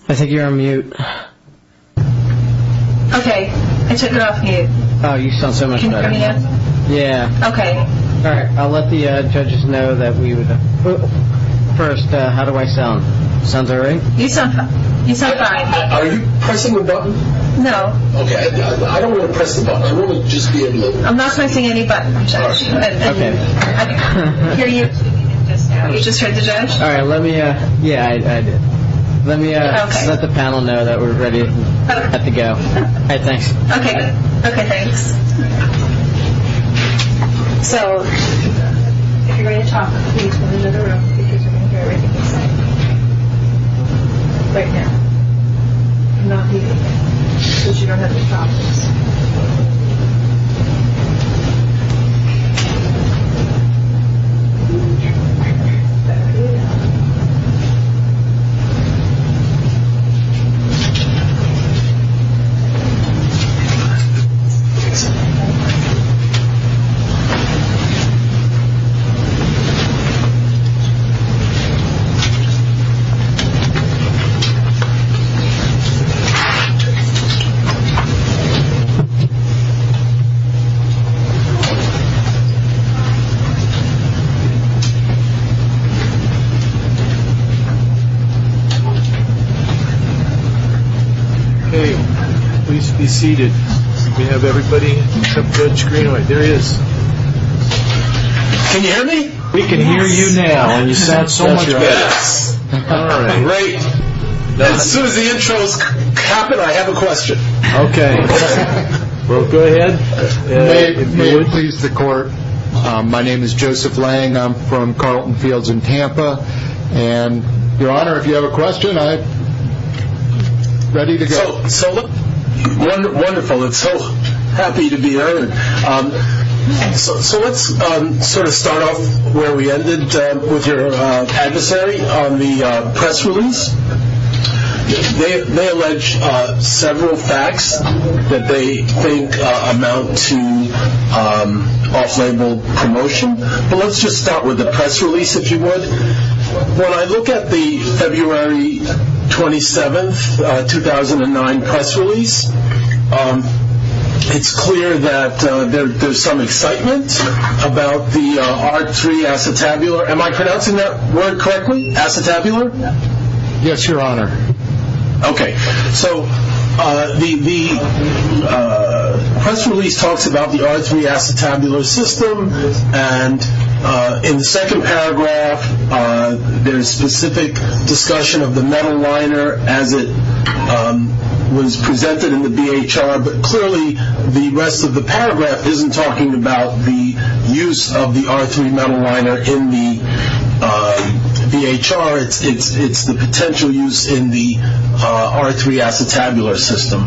I think you're on mute. Okay. I took it off mute. Oh, you sound so much better. Can you hear me now? Yeah. Okay. All right. I'll let the judges know that we've... First, how do I sound? Sounds all right? You sound fine. Are you pressing the button? No. Okay. I don't want to press the button. I want to just be in the middle. I'm not pressing any buttons, Judge. Okay. Can you just hear the judge? All right. Let me... Yeah, I do. Let the panel know that we're ready to go, I think. Okay. Okay. All right. Okay. Please be seated. We have everybody on the screen. There he is. Can you hear me? We can hear you now. You sound so much better. Yeah. All right. Great. As soon as the intro has happened, I have a question. Okay. Go ahead. All right. All right. All right. All right. All right. All right. All right. All right. All right. All right. All right. So we have a question. All right. Ready to go. So look, wonderful. I'm so happy to be here. So let's sort of start off where we ended with your adversary on the press release. They allege several facts that they think amount to off-label promotion. But let's just start with the press release, if you would. When I look at the February 27th, 2009 press release, it's clear that there's some excitement about the R3 Acetabular. Am I pronouncing that word correctly, Acetabular? Yes, Your Honor. Okay. So the press release talks about the R3 Acetabular system, and in the second paragraph there's specific discussion of the metal liner as it was presented in the BHR. But clearly the rest of the paragraph isn't talking about the use of the R3 metal liner in the BHR. It's the potential use in the R3 Acetabular system.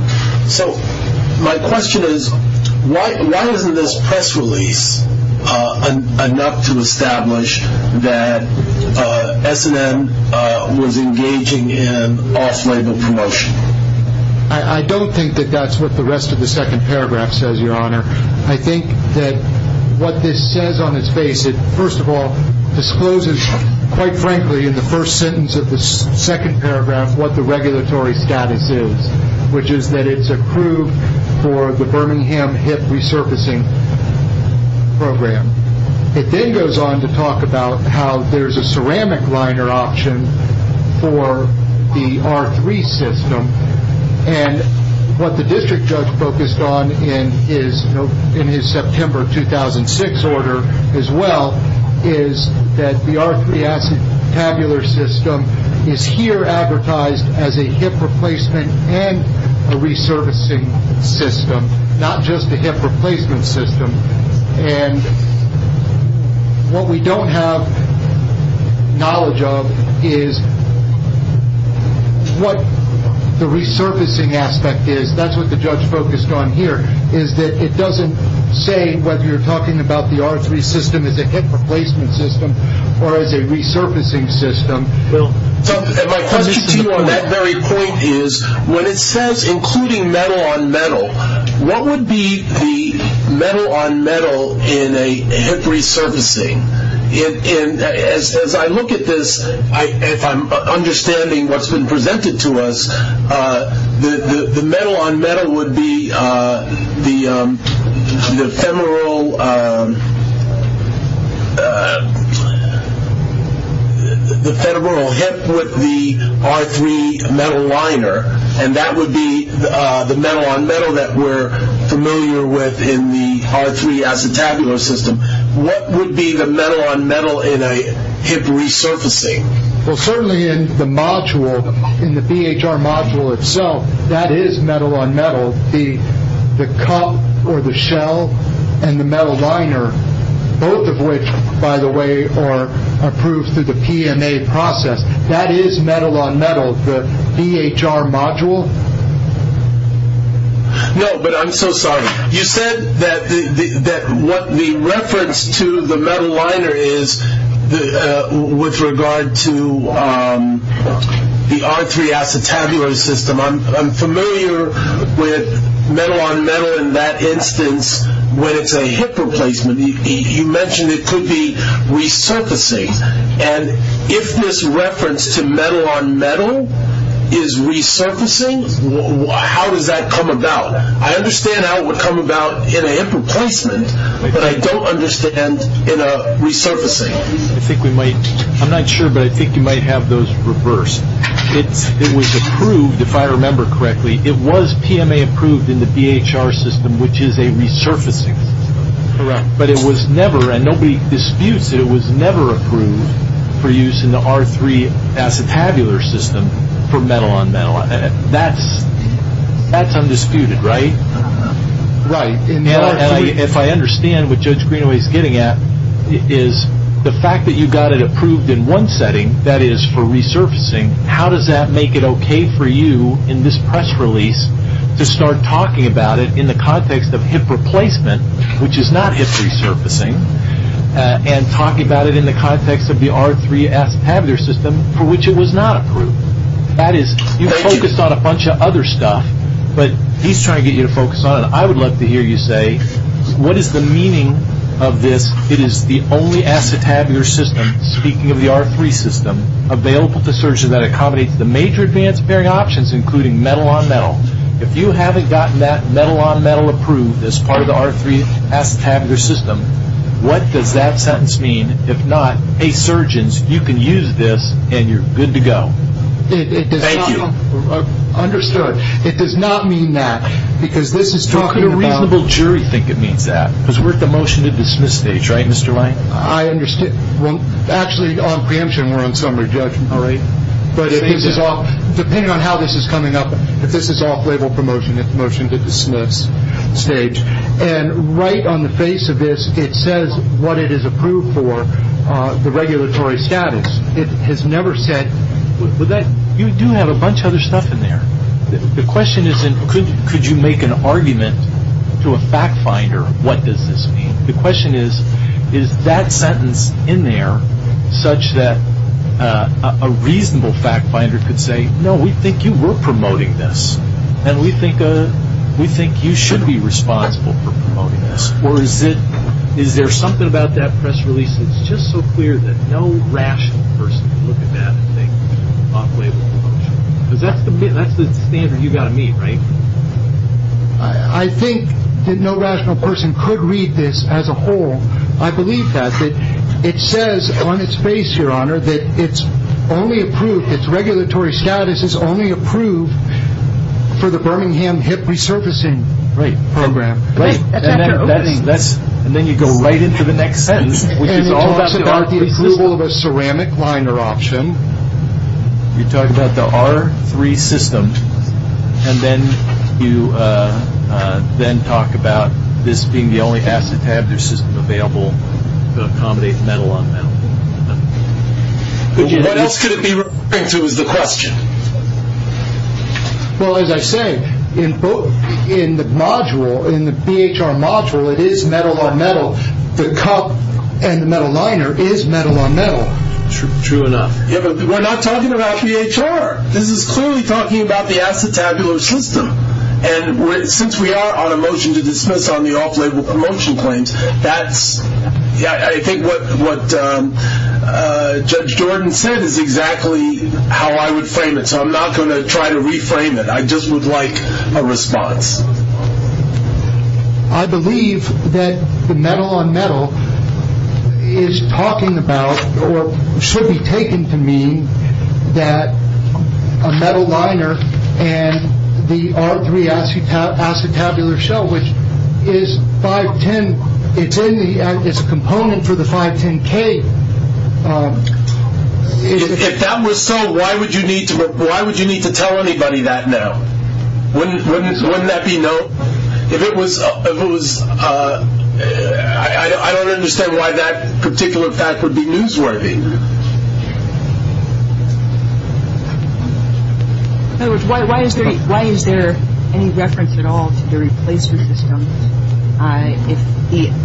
So my question is, why wasn't this press release enough to establish that S&M was engaging in off-label promotion? I don't think that that's what the rest of the second paragraph says, Your Honor. I think that what this says on its face, it first of all discloses, quite frankly, in the first sentence of the second paragraph what the regulatory status is, which is that it's approved for the Birmingham HIP resurfacing program. It then goes on to talk about how there's a ceramic liner option for the R3 system, and what the district judge focused on in his September 2006 order as well is that the R3 Acetabular system is here advertised as a hip replacement and a resurfacing system, not just a hip replacement system. And what we don't have knowledge of is what the resurfacing aspect is. That's what the judge focused on here, is that it doesn't say whether you're talking about the R3 system as a hip replacement system or as a resurfacing system. And my question to you on that very point is, when it says including metal on metal, what would be the metal on metal in a hip resurfacing? And as I look at this, if I'm understanding what's been presented to us, the metal on metal would be the femoral hip with the R3 metal liner, and that would be the metal on metal that we're familiar with in the R3 Acetabular system. What would be the metal on metal in a hip resurfacing? Well, certainly in the module, in the DHR module itself, that is metal on metal. The cup or the shell and the metal liner, both of which, by the way, are approved through the PMA process, that is metal on metal, the DHR module. No, but I'm so sorry. You said that what the reference to the metal liner is with regard to the R3 Acetabular system. I'm familiar with metal on metal in that instance with a hip replacement. You mentioned it could be resurfacing. And if this reference to metal on metal is resurfacing, how does that come about? I understand how it would come about in a hip replacement, but I don't understand in a resurfacing. I'm not sure, but I think you might have those reversed. It was approved, if I remember correctly. It was PMA approved in the DHR system, which is a resurfacing. Correct. But it was never, and nobody disputes that it was never approved for use in the R3 Acetabular system for metal on metal. That's undisputed, right? Right. If I understand what Judge Greenaway is getting at, it is the fact that you got it approved in one setting, that is for resurfacing, how does that make it okay for you in this press release to start talking about it in the context of hip replacement, which is not hip resurfacing, and talk about it in the context of the R3 Acetabular system for which it was not approved? That is, you focused on a bunch of other stuff, but he's trying to get you to focus on it. I would love to hear you say, what is the meaning of this? It is the only acetabular system, speaking of the R3 system, available to surgeons that accommodates the major advance bearing options, including metal on metal. If you haven't gotten that metal on metal approved as part of the R3 Acetabular system, what does that sentence mean? If not, hey surgeons, you can use this and you're good to go. Thank you. Understood. It does not mean that, because this is talking about... Who could a reasonable jury think it means that? Because we're at the motion to dismiss stage, right Mr. White? I understand. Well, actually on preemption we're on summary, Judge Greenaway. Depending on how this is coming up, if this is off-label promotion, it's motion to dismiss stage. And right on the face of this, it says what it is approved for, the regulatory status. It has never said... You do have a bunch of other stuff in there. The question isn't could you make an argument to a fact finder what does this mean? The question is, is that sentence in there such that a reasonable fact finder could say, no, we think you were promoting this, and we think you should be responsible for promoting this. Or is there something about that press release that's just so clear that no rational person could look at that and think it's off-label promotion? That's the standard you've got to meet, right? I think that no rational person could read this as a whole. I believe that. It says on its face, Your Honor, that it's only approved, its regulatory status is only approved for the Birmingham hip resurfacing program. And then you go right into the next sentence, which is also about the approval of a ceramic liner option. You talk about the R3 system, and then you then talk about this being the only acetabular system available that accommodates metal-on-metal. What else could it be referring to is the question? Well, as I say, in the module, in the BHR module, it is metal-on-metal. The cup and the metal liner is metal-on-metal. True enough. Yeah, but we're not talking about BHR. This is clearly talking about the acetabular system. And since we are on a motion to dismiss on the off-label promotion claim, that's I think what Judge Jordan said is exactly how I would frame it. So I'm not going to try to reframe it. I just would like a response. I believe that the metal-on-metal is talking about or should be taken to mean that a metal liner and the R3 acetabular shell, which is 510, it's a component for the 510K. If that were so, why would you need to tell anybody that now? Wouldn't that be no? I don't understand why that particular fact would be misrepresenting. Why is there any reference at all to the replacement systems? If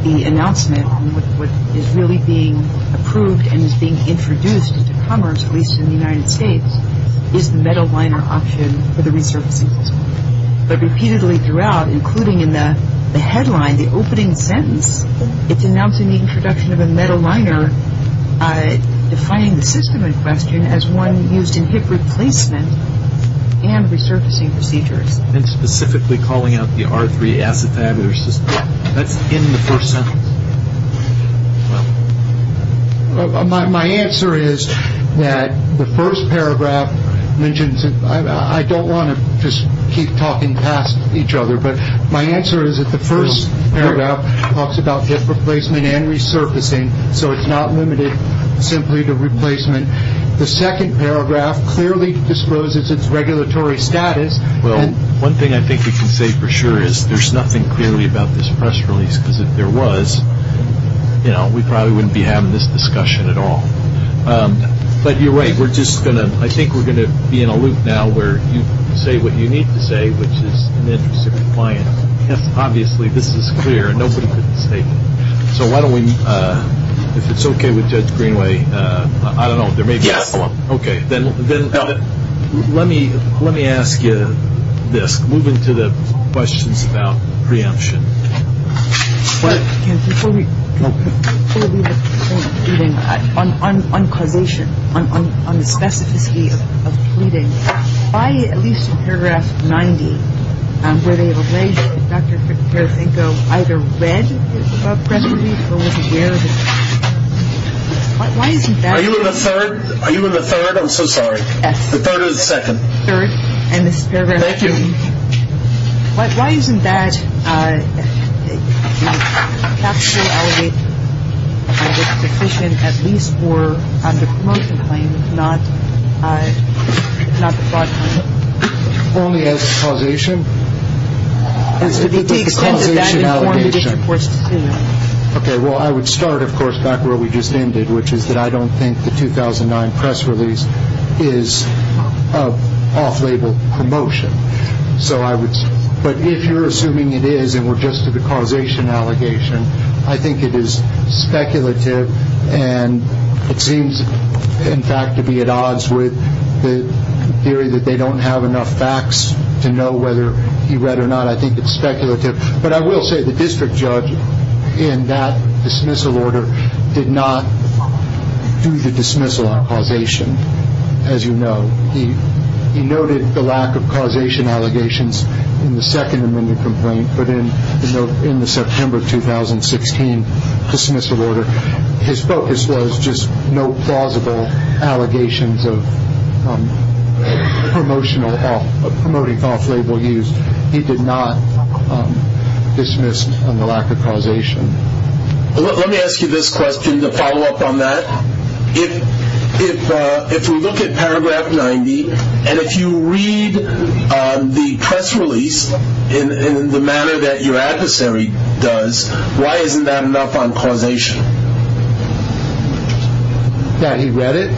the announcement on what is really being approved and is being introduced to commerce, at least in the United States, is the metal liner option for the resurfacing system. But repeatedly throughout, including in the headline, the opening sentence, it's announcing the introduction of a metal liner, defining the system in question as one used in tip replacement and resurfacing procedures. And specifically calling out the R3 acetabular system. Yeah. That's in the first sentence. Well, my answer is that the first paragraph mentions it. I don't want to just keep talking past each other, but my answer is that the first paragraph talks about tip replacement and resurfacing, so it's not limited simply to replacement. The second paragraph clearly disposes its regulatory status. Well, one thing I think you can say for sure is there's nothing clearly about this press release because if there was, you know, we probably wouldn't be having this discussion at all. But either way, I think we're going to be in a loop now where you can say what you need to say, which is an interest in compliance. Obviously, this is clear. Nobody could mistake it. So why don't we, if it's okay with Judge Greenway, I don't know, there may be a follow-up. Okay. Let me ask you this. Moving to the questions about preemption. Before we get to the point of pleading, on condition, on the specificity of pleading, by at least paragraph 90, where they relay Dr. Fitzgerald's info, either read the press release or was it garrisoned? Why isn't that? Are you in the third? Are you in the third? I'm so sorry. Yes. The third or the second? Third. Thank you. Why isn't that? Only as a causation. It's a causation allegation. Okay. Well, I would start, of course, back where we just ended, which is that I don't think the 2009 press release is an off-label promotion. But if you're assuming it is and we're just to the causation allegation, I think it is speculative and it seems, in fact, to be at odds with the theory that they don't have enough facts to know whether he read or not. I think it's speculative. But I will say the district judge in that dismissal order did not do the dismissal on causation, as you know. He noted the lack of causation allegations in the Second Amendment complaint, but in the September 2016 dismissal order, his focus was just no plausible allegations of promotional help, of promoting off-label use. He did not dismiss the lack of causation. Let me ask you this question to follow up on that. If we look at paragraph 90 and if you read the press release in the manner that your adversary does, why isn't that enough on causation? That he read it?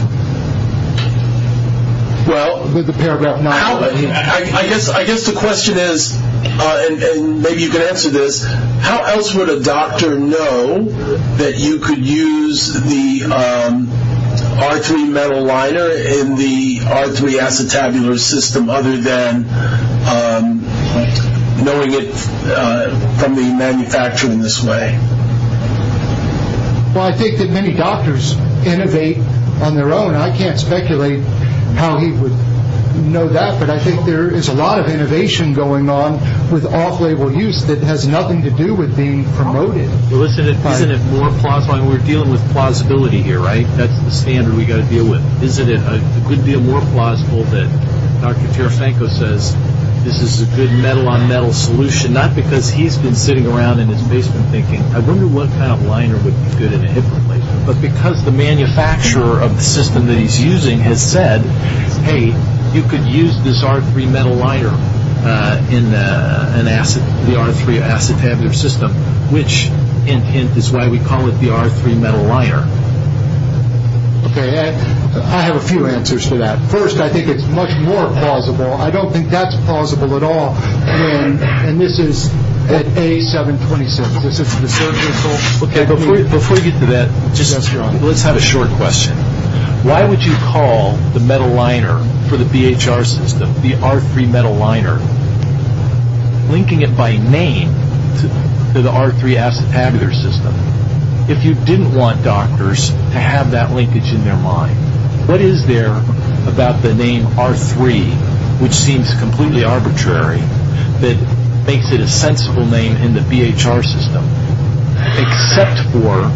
Well, I guess the question is, and maybe you can answer this, how else would a doctor know that you could use the R3 metal liner in the R3 acetabular system other than knowing it from being manufactured in this way? Well, I think that many doctors innovate on their own. I can't speculate how he would know that, but I think there is a lot of innovation going on with off-label use that has nothing to do with being promoted. Listen, we're dealing with plausibility here, right? That's the standard we've got to deal with. Could it be more plausible that, as Dr. Pirofanko says, this is a good metal-on-metal solution, not because he's been sitting around in his basement thinking, I wonder what kind of liner would be good in a different place, but because the manufacturer of the system that he's using has said, hey, you could use this R3 metal liner in the R3 acetabular system, which is why we call it the R3 metal liner. Okay, I have a few answers to that. First, I think it's much more plausible. I don't think that's plausible at all. And this is an A726. Okay, before we get to that, let's have a short question. Why would you call the metal liner for the BHR system the R3 metal liner, linking it by name to the R3 acetabular system? If you didn't want doctors to have that linkage in their mind, what is there about the name R3, which seems completely arbitrary, that makes it a sensible name in the BHR system, except for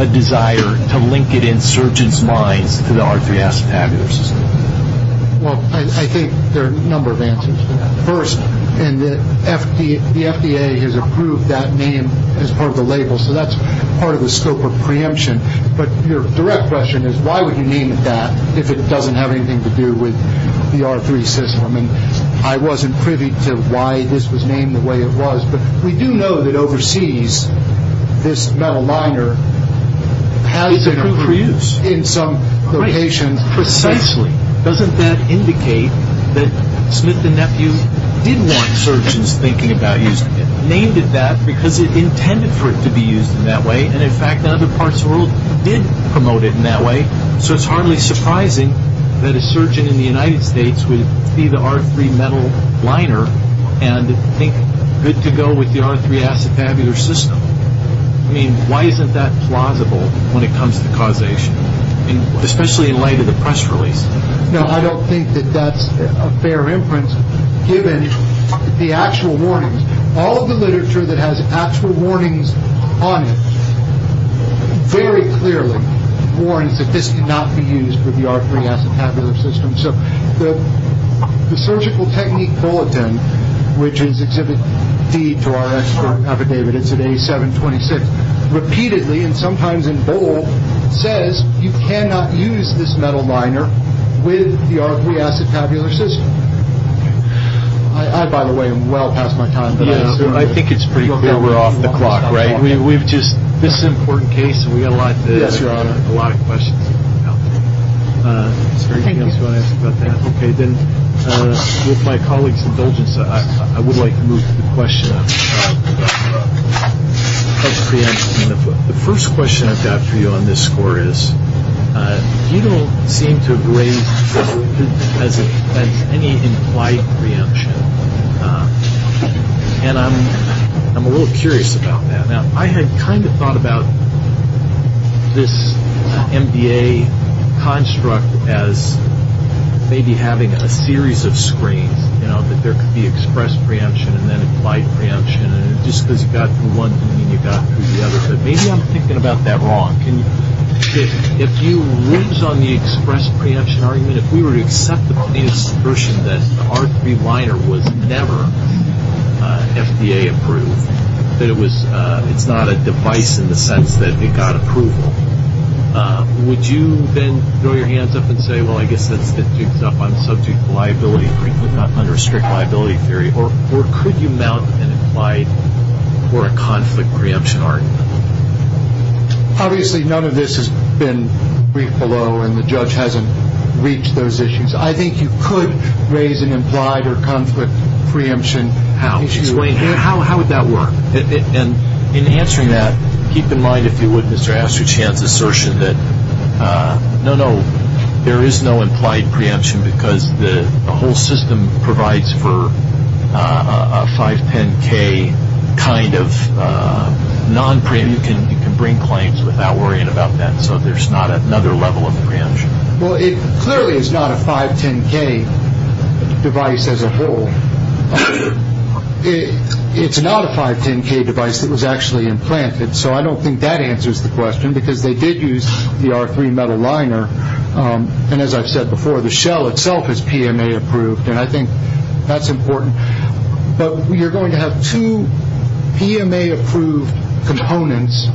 a desire to link it in surgeons' minds to the R3 acetabular system? Well, I think there are a number of answers to that. And the FDA has approved that name as part of the label, so that's part of the scope of preemption. But your direct question is, why would you name it that, if it doesn't have anything to do with the R3 system? And I wasn't privy to why this was named the way it was, but we do know that overseas this metal liner has been used in some locations. But precisely, doesn't that indicate that Smith & Nephew didn't want surgeons thinking about using it? They named it that because they intended for it to be used in that way, and in fact other parts of the world did promote it in that way. So it's hardly surprising that a surgeon in the United States would see the R3 metal liner and think it could go with the R3 acetabular system. I mean, why isn't that plausible when it comes to causation? Especially in light of the press release. No, I don't think that that's a fair inference, given the actual warnings. All of the literature that has actual warnings on it, very clearly warns that this did not be used for the R3 acetabular system. So the Surgical Technique Bulletin, which is Exhibit D to our expert Dr. David, repeatedly, and sometimes in bold, says you cannot use this metal liner with the R3 acetabular system. I, by the way, am well past my time. I think it's pretty clear we're off the clock, right? This is an important case, and we have a lot of questions. Okay, then with my colleague's indulgence, I would like to move to the questions. The first question I've got for you on this score is, you know, I'm a little curious about that. I had kind of thought about this MBA construct as maybe having a series of screens, you know, that there could be expressed preemption and then implied preemption, and just because you've got one, you've got two, you've got a third. Maybe I'm thinking about that wrong. If you lose on the expressed preemption argument, if we were to accept about the expression that R3 liner would never be MBA approved, that it was not a device in the sense that it got approval, would you then throw your hands up and say, well, I guess it picks up on substitute liability under strict liability theory, or could you mount an implied or a conflict preemption argument? Obviously, none of this has been briefed below, and the judge hasn't reached those issues. I think you could raise an implied or conflict preemption. How would that work? In answering that, keep in mind, if you would, Mr. Astrochant, the assertion that no, no, there is no implied preemption because the whole system provides for a 510K kind of non-preemption. You can bring claims without worrying about that, so there's not another level of preemption. Well, it clearly is not a 510K device as a whole. It's not a 510K device that was actually implanted, so I don't think that answers the question because they did use the R3 metal liner, and as I've said before, the shell itself is PMA-approved, and I think that's important. But you're going to have two PMA-approved components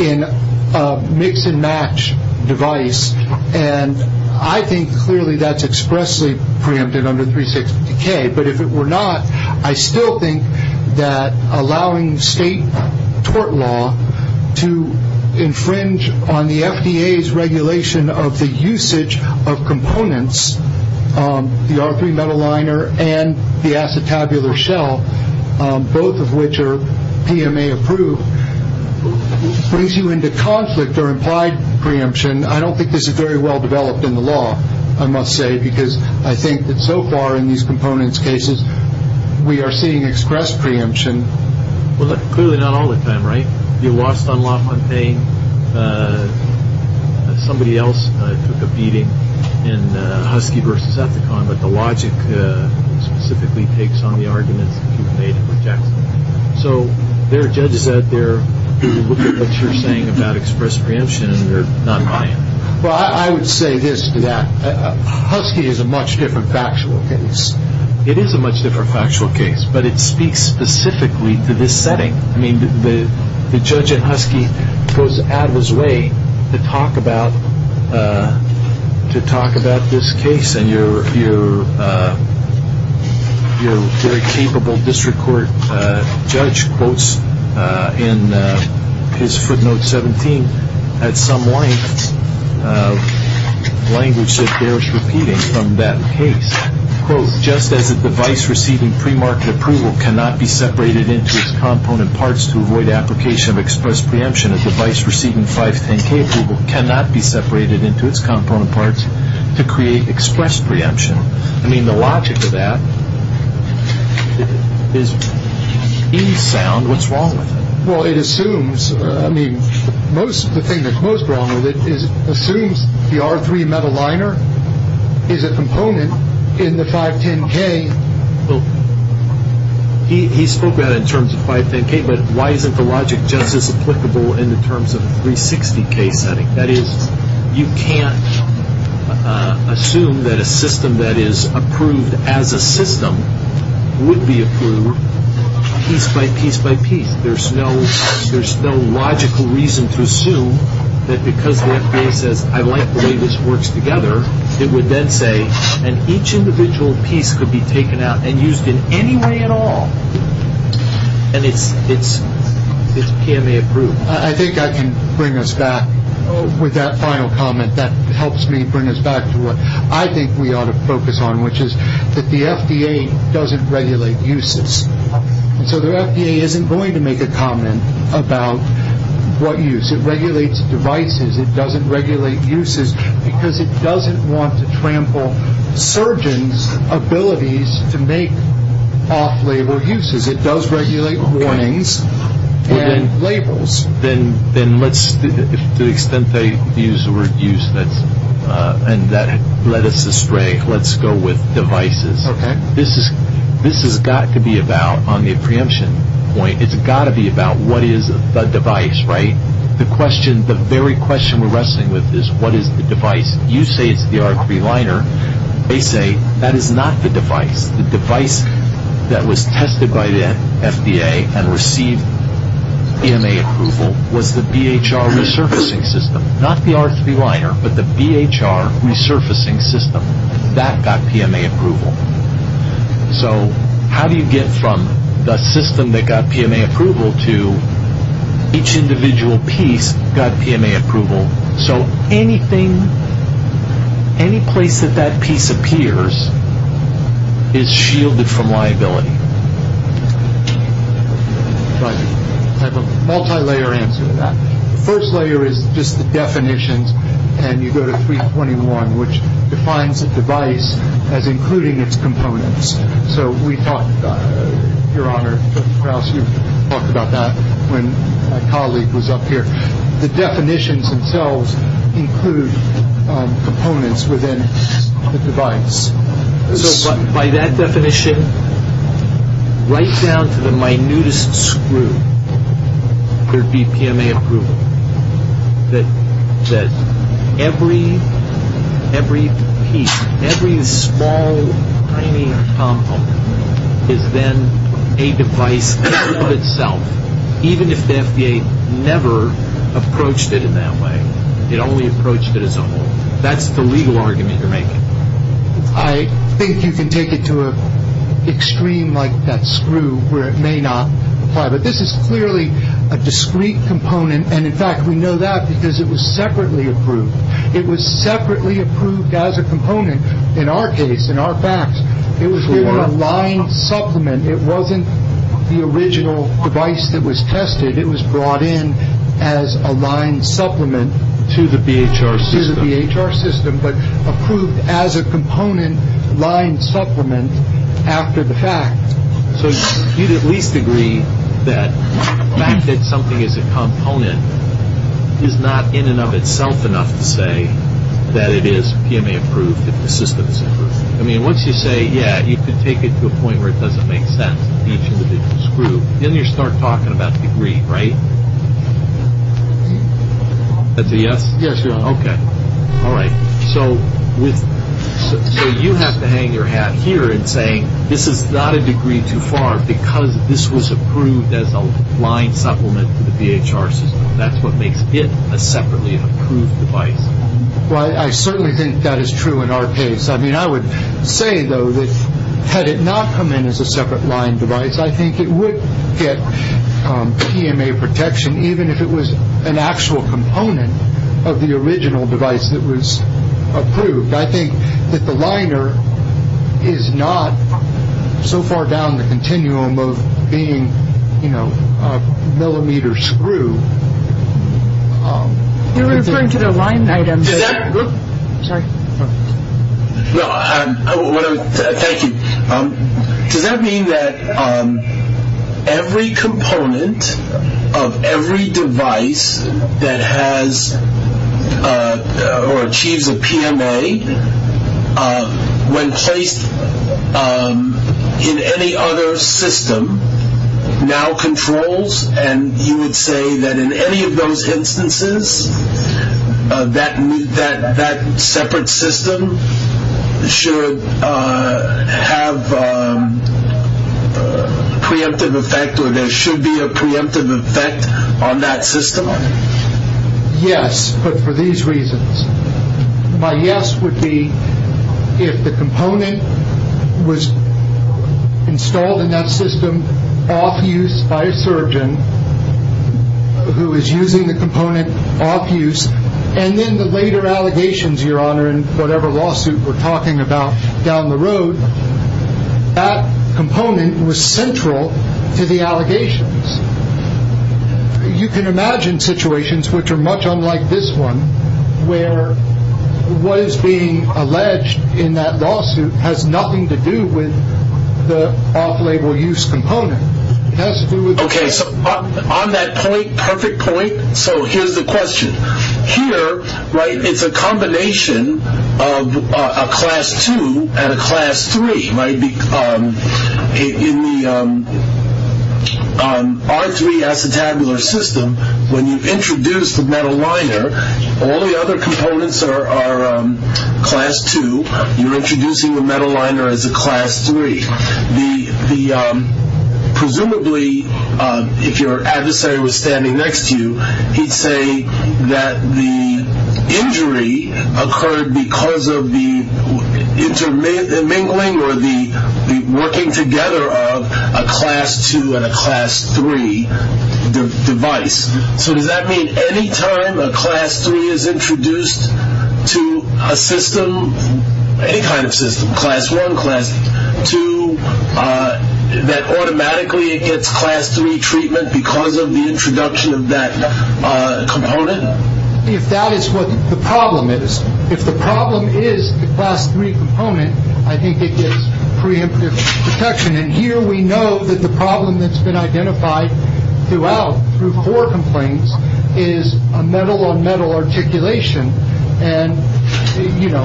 in a mix-and-match device, and I think clearly that's expressly preempted under 360K, but if it were not, I still think that allowing state tort law to infringe on the FDA's regulation of the usage of components, the R3 metal liner and the acetabular shell, both of which are PMA-approved, brings you into conflict or implied preemption. I don't think this is very well developed in the law, I must say, because I think that so far in these components cases we are seeing express preemption. Well, clearly not all of them, right? You lost on LaFontaine, somebody else took a beating in Husky v. Zephyrcon, but the logic specifically takes on the argument that you've made of rejection. So there are judges out there looking at what you're saying about express preemption, and they're not buying it. Well, I would say this to that. Husky is a much different factual case. It is a much different factual case, but it speaks specifically to this setting. I mean, the judge in Husky goes out of his way to talk about this case, and your very capable district court judge quotes in his footnote 17 at some length language that bears repeating from that case, quote, Just as a device receiving premarket approval cannot be separated into its component parts to avoid application of express preemption, a device receiving 510K approval cannot be separated into its component parts to create express preemption. I mean, the logic of that is infound. What's wrong with that? Well, it assumes. I mean, the thing that's most wrong with it is it assumes the R3 metal liner is a component in the 510K. He spoke about it in terms of 510K, but why isn't the logic just as applicable in the terms of the 360K setting? That is, you can't assume that a system that is approved as a system would be approved piece by piece by piece. There's no logical reason to assume that because the FDA says, I like the way this works together, it would then say that each individual piece could be taken out and used in any way at all, and it's can they approve. I think I can bring us back with that final comment. That helps me bring us back to what I think we ought to focus on, which is that the FDA doesn't regulate uses. So the FDA isn't going to make a comment about what use. It regulates devices. It doesn't regulate uses because it doesn't want to trample surgeons' abilities to make off-label uses. It does regulate warnings and labels. Then to the extent they use the word use and that led us astray, let's go with devices. This has got to be about, on the apprehension point, it's got to be about what is a device, right? The very question we're wrestling with is what is the device? You say it's the R3 liner. They say that is not the device. The device that was tested by the FDA and received PMA approval was the DHR resurfacing system. Not the R3 liner, but the DHR resurfacing system. That got PMA approval. So how do you get from the system that got PMA approval to each individual piece that got PMA approval so anything, any place that that piece appears is shielded from liability? Multi-layer answer to that. First layer is just the definitions, and you go to 3.21, which defines the device as including its components. So we talked about that, Your Honor. Krauss, you talked about that when a colleague was up here. The definitions themselves include components within the device. By that definition, right down to the minutest screw could be PMA approval. That every piece, every small tiny component is then a device in and of itself, even if the FDA never approached it in that way. They only approached it as a whole. That's the legal argument they're making. I think you can take it to an extreme like that screw where it may not. But this is clearly a discrete component, and, in fact, we know that because it was separately approved. It was separately approved as a component in our case, in our facts. It was a line supplement. It wasn't the original device that was tested. It was brought in as a line supplement to the DHR system, but approved as a component line supplement after the fact. So you could at least agree that the fact that something is a component is not in and of itself enough to say that it is PMA approved, that the system is approved. I mean, once you say, yeah, you could take it to a point where it doesn't make sense, each individual screw, then you start talking about degree, right? Yes, Your Honor. Okay. All right. So you have to hang your hat here in saying this is not a degree too far because this was approved as a line supplement to the DHR system. That's what makes this a separately approved device. Well, I certainly think that is true in our case. I mean, I would say, though, that had it not come in as a separate line device, I think it would get PMA protection, even if it was an actual component of the original device that was approved. I think that the liner is not so far down the continuum of being, you know, a millimeter screw. You're referring to the line item. Sorry. Thank you. Does that mean that every component of every device that has or achieves a PMA, when placed in any other system, now controls, and you would say that in any of those instances, that separate system should have preemptive effect or there should be a preemptive effect on that system? Yes, but for these reasons. My yes would be if the component was installed in that system off-use by a surgeon who is using the component off-use, and then the later allegations, Your Honor, in whatever lawsuit we're talking about down the road, you can imagine situations which are much unlike this one, where what is being alleged in that lawsuit has nothing to do with the off-label use component. Okay, so on that point, perfect point, so here's the question. Here, right, it's a combination of a class two and a class three, right? In the R3 acetabular system, when you introduce the metal liner, all the other components are class two. You're introducing the metal liner as a class three. Presumably, if your adversary was standing next to you, he'd say that the injury occurred because of the intermingling or the working together of a class two and a class three device. So does that mean any time a class three is introduced to a system, any kind of system, class one, class two, that automatically it gets class three treatment because of the introduction of that component? If that is what the problem is, if the problem is the class three component, I think it gets preemptive protection, and here we know that the problem that's been identified throughout through court complaints is a metal-on-metal articulation, and, you know,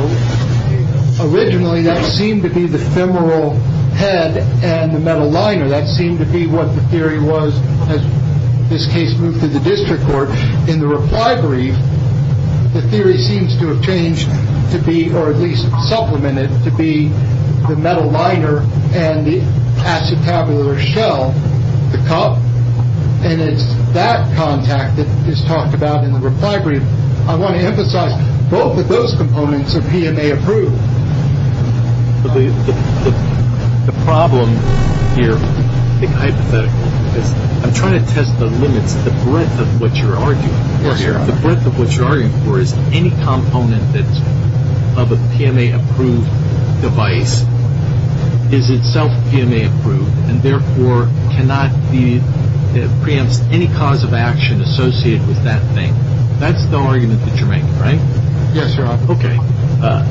originally that seemed to be the femoral head and the metal liner. That seemed to be what the theory was as this case moved through the district court. In the recovery, the theory seems to have changed to be, or at least supplemented to be, the metal liner and the acetabular shell, the cup, and it's that contact that is talked about in the recovery. I want to emphasize both of those components are PMA approved. The problem here, I think hypothetically, I'm trying to test the limit of the breadth of what you're arguing for here. The breadth of what you're arguing for is any component of a PMA approved device is itself PMA approved and therefore cannot preempt any cause of action associated with that thing. That's the argument that you're making, right? Yes, sir. Okay.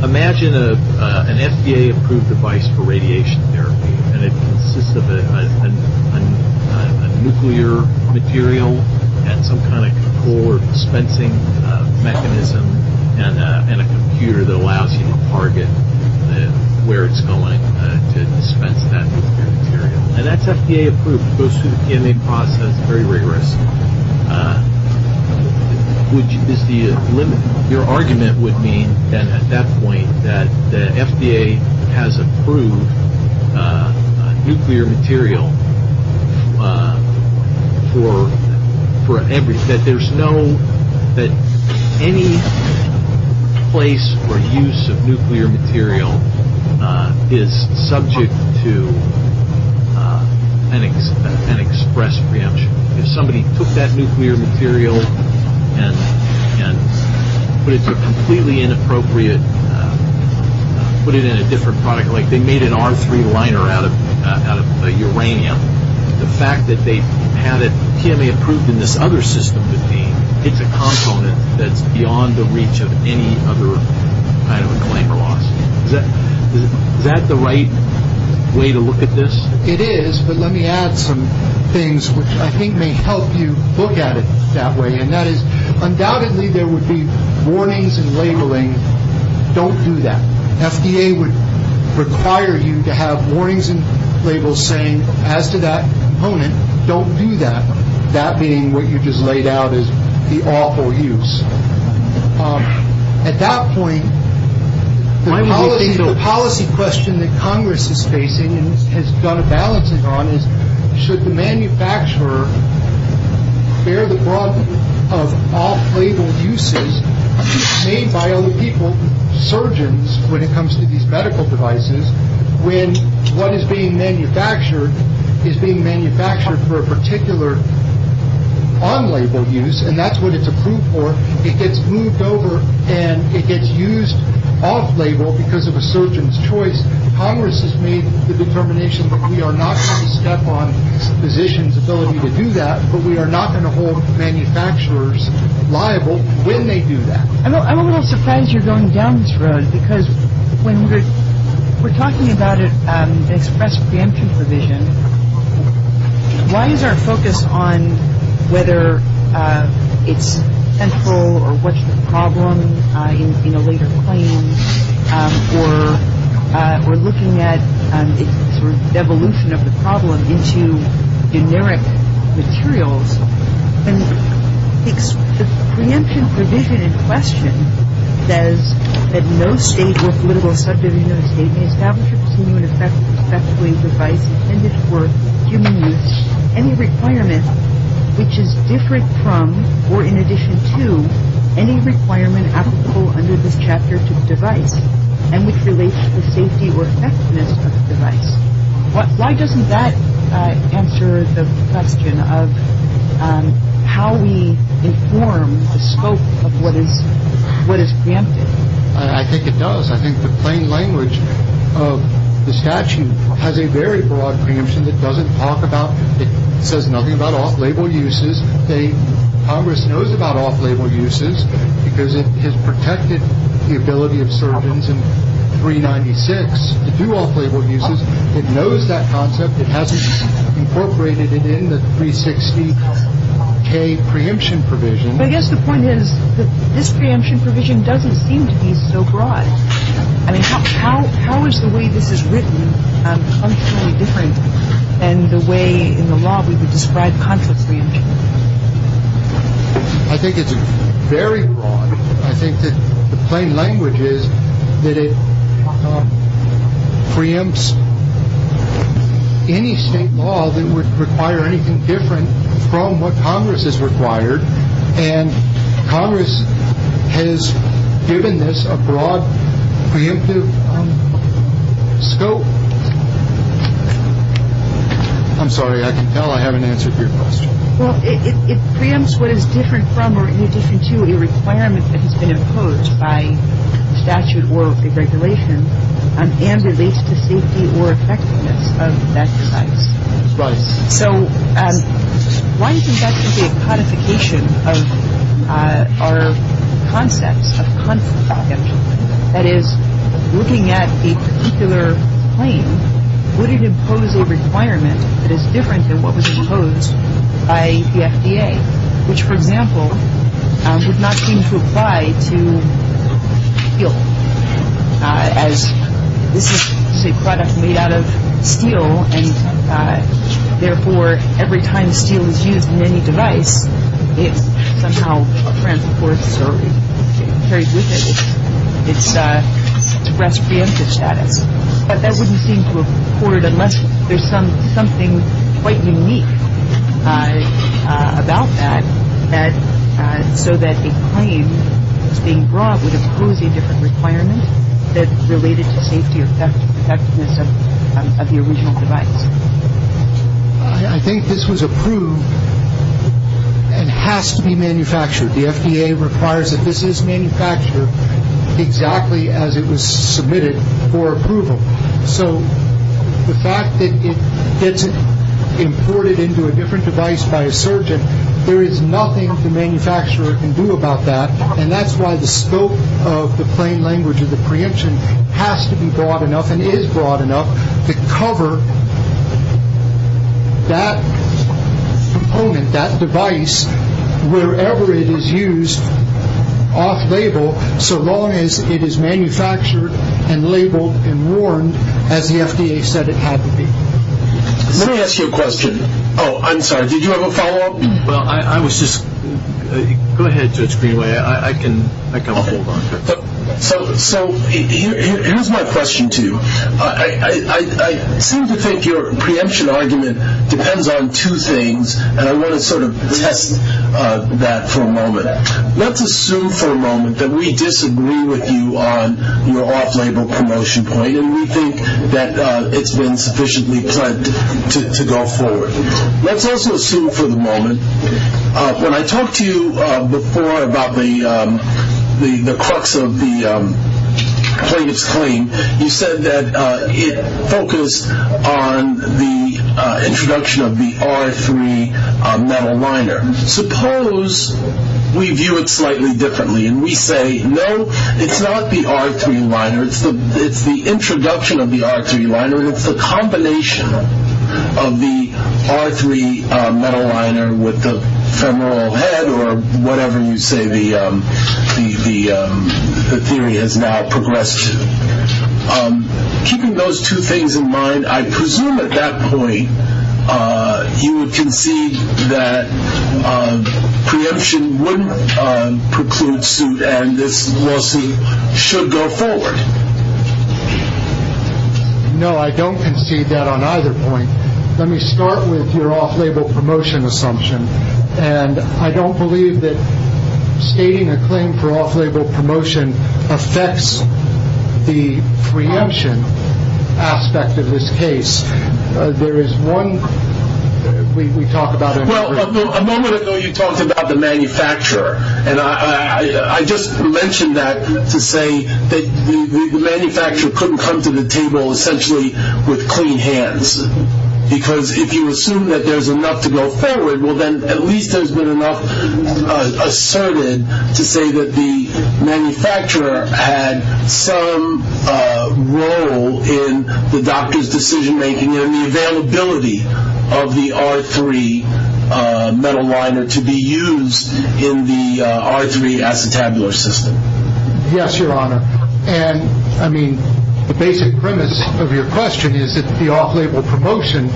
Imagine an FDA approved device for radiation therapy, and it consists of a nuclear material and some kind of core dispensing mechanism and a computer that allows you to target where it's going and dispense that nuclear material. And that's FDA approved. It goes through the PMA process very rigorously. Your argument would mean, then, at that point, that the FDA has approved nuclear material for every- that there's no- that any place or use of nuclear material is subject to an express preemption. If somebody took that nuclear material and put it to a completely inappropriate- put it in a different product, like they made an R3 liner out of uranium, the fact that they had it PMA approved in this other system would mean it's a component that's beyond the reach of any other kind of a flame alarm. Is that the right way to look at this? It is. But let me add some things which I think may help you look at it that way, and that is, undoubtedly, there would be warnings and labeling, don't do that. FDA would require you to have warnings and labels saying, as to that component, don't do that. That being what you just laid out as the awful use. At that point, the policy question that Congress is facing and has done a balancing on is, should the manufacturer bear the brunt of off-label uses made by other people, surgeons, when it comes to these medical devices, when what is being manufactured is being manufactured for a particular on-label use, and that's what it's approved for, it gets moved over, and it gets used off-label because of a surgeon's choice. Congress has made the determination that we are not going to step on physicians telling you to do that, but we are not going to hold manufacturers liable when they do that. I'm a little surprised you're going down this road, because when we're talking about an express banshee provision, why is our focus on whether it's central, or what's the problem in a later claim, or looking at the evolution of the problem into generic materials? I think the preemption provision in question says that no state or political subject establishes human-effects-related devices intended for human use. Any requirement which is different from, or in addition to, any requirement applicable under this Chapter 2 device, and which relates to safety or effectiveness of the device. Why doesn't that answer the question of how we inform the scope of what is granted? I think it does. I think the plain language of the statute has a very broad conclusion. It doesn't talk about, it says nothing about off-label uses. Congress knows about off-label uses, because it has protected the ability of surgeons in 396 to do off-label uses. It knows that concept. It has incorporated it in the 360K preemption provision. But I guess the point is that this preemption provision doesn't seem to be so broad. How is the way this is written completely different than the way in the law we would describe contract preemption? I think it's very broad. I think that the plain language is that it preempts any state law that would require anything different from what Congress has required, and Congress has given this a broad preemptive scope. I'm sorry. I can tell I haven't answered your question. Well, it preempts what is different from or in addition to a requirement that has been imposed by statute or the regulations and relates to safety or effectiveness of that device. Right. So, why do you think that could be a codification of our concept, a concept project? That is, looking at the particular claim, would it impose a requirement that is different than what was imposed by the FDA, which, for example, does not seem to apply to steel, as this is a product made out of steel, and, therefore, every time steel is used in any device, it somehow transports or transmits its responsive status. But that wouldn't seem to have occurred unless there's something quite unique about that, so that a claim being brought would impose a different requirement that's related to safety or effectiveness of the original device. I think this was approved and has to be manufactured. The FDA requires that this is manufactured exactly as it was submitted for approval. So, the fact that it gets imported into a different device by a surgeon, there is nothing the manufacturer can do about that, and that's why the scope of the plain language of the preemption has to be broad enough and is broad enough to cover that component, that device, wherever it is used off-label, so long as it is manufactured and labeled and worn as the FDA said it had to be. Oh, I'm sorry. Did you have a follow-up? Go ahead, Judge Greenway. I can hold on to it. So, here's my question to you. I seem to think your preemption argument depends on two things, and I want to sort of test that for a moment. Let's assume for a moment that we disagree with you on your off-label promotion point, and we think that it's been sufficiently tried to go forward. Let's also assume for the moment, when I talked to you before about the crux of the claims claim, you said that it focused on the introduction of the R3 metal liner. Suppose we view it slightly differently and we say, no, it's not the R3 liner. It's the introduction of the R3 liner, or it's a combination of the R3 metal liner with the femoral head, or whatever you say the theory has now progressed to. Keeping those two things in mind, I presume at that point you concede that preemption wouldn't preclude suit and this lawsuit should go forward. No, I don't concede that on either point. Let me start with your off-label promotion assumption, and I don't believe that stating a claim for off-label promotion affects the preemption aspect of this case. There is one, we talked about it. Well, a moment ago you talked about the manufacturer, and I just mentioned that to say that the manufacturer couldn't come to the table essentially with clean hands, because if you assume that there's enough to go forward, well then at least there's been enough asserted to say that the manufacturer had some role in the doctor's decision-making and the availability of the R3 metal liner to be used in the R3 acetabular system. Yes, Your Honor. And, I mean, the basic premise of your question is that the off-label promotion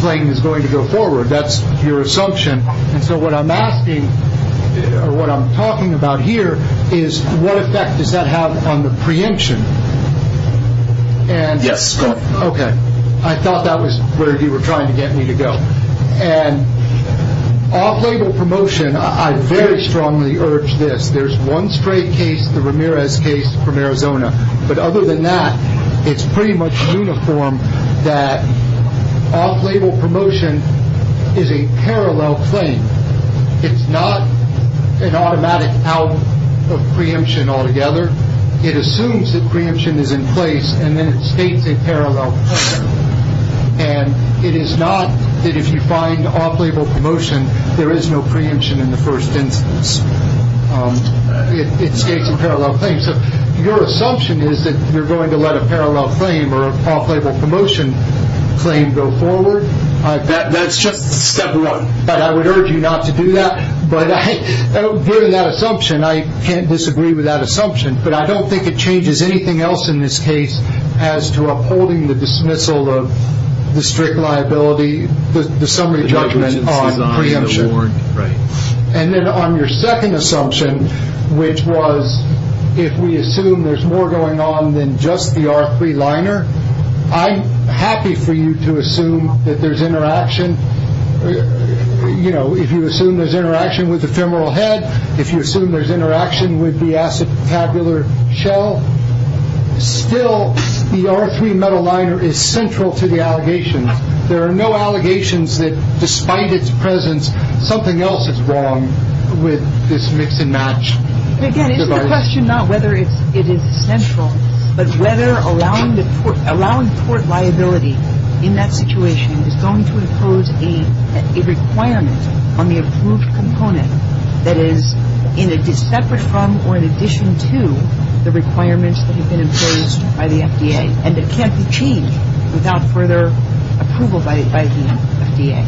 claim is going to go forward. That's your assumption. And so what I'm asking, or what I'm talking about here, is what effect does that have on the preemption? Yes, go ahead. Okay. I thought that was where you were trying to get me to go. And off-label promotion, I very strongly urge this. There's one straight case, the Ramirez case from Arizona, but other than that it's pretty much uniform that off-label promotion is a parallel claim. It's not an automatic out of preemption altogether. It assumes that preemption is in place, and then it states a parallel claim. And it is not that if you find off-label promotion there is no preemption in the first instance. It states a parallel claim. So your assumption is that you're going to let a parallel claim or off-label promotion claim go forward. That's just a step away. I would urge you not to do that. But given that assumption, I can't disagree with that assumption, but I don't think it changes anything else in this case as to upholding the dismissal of the strict liability, the summary judgment on preemption. Right. And then on your second assumption, which was if we assume there's more going on than just the arc-free liner, I'm happy for you to assume that there's interaction. You know, if you assume there's interaction with the femoral head, if you assume there's interaction with the acetabular shell, still the arc-free metal liner is central to the allegation. There are no allegations that despite its presence, something else is wrong with this mix and match. The question is not whether it is central, but whether allowing the court liability in that situation is going to impose a requirement on the approved component that is separate from or in addition to the requirements that have been imposed by the FDA, and it can't be changed without further approval by the FDA.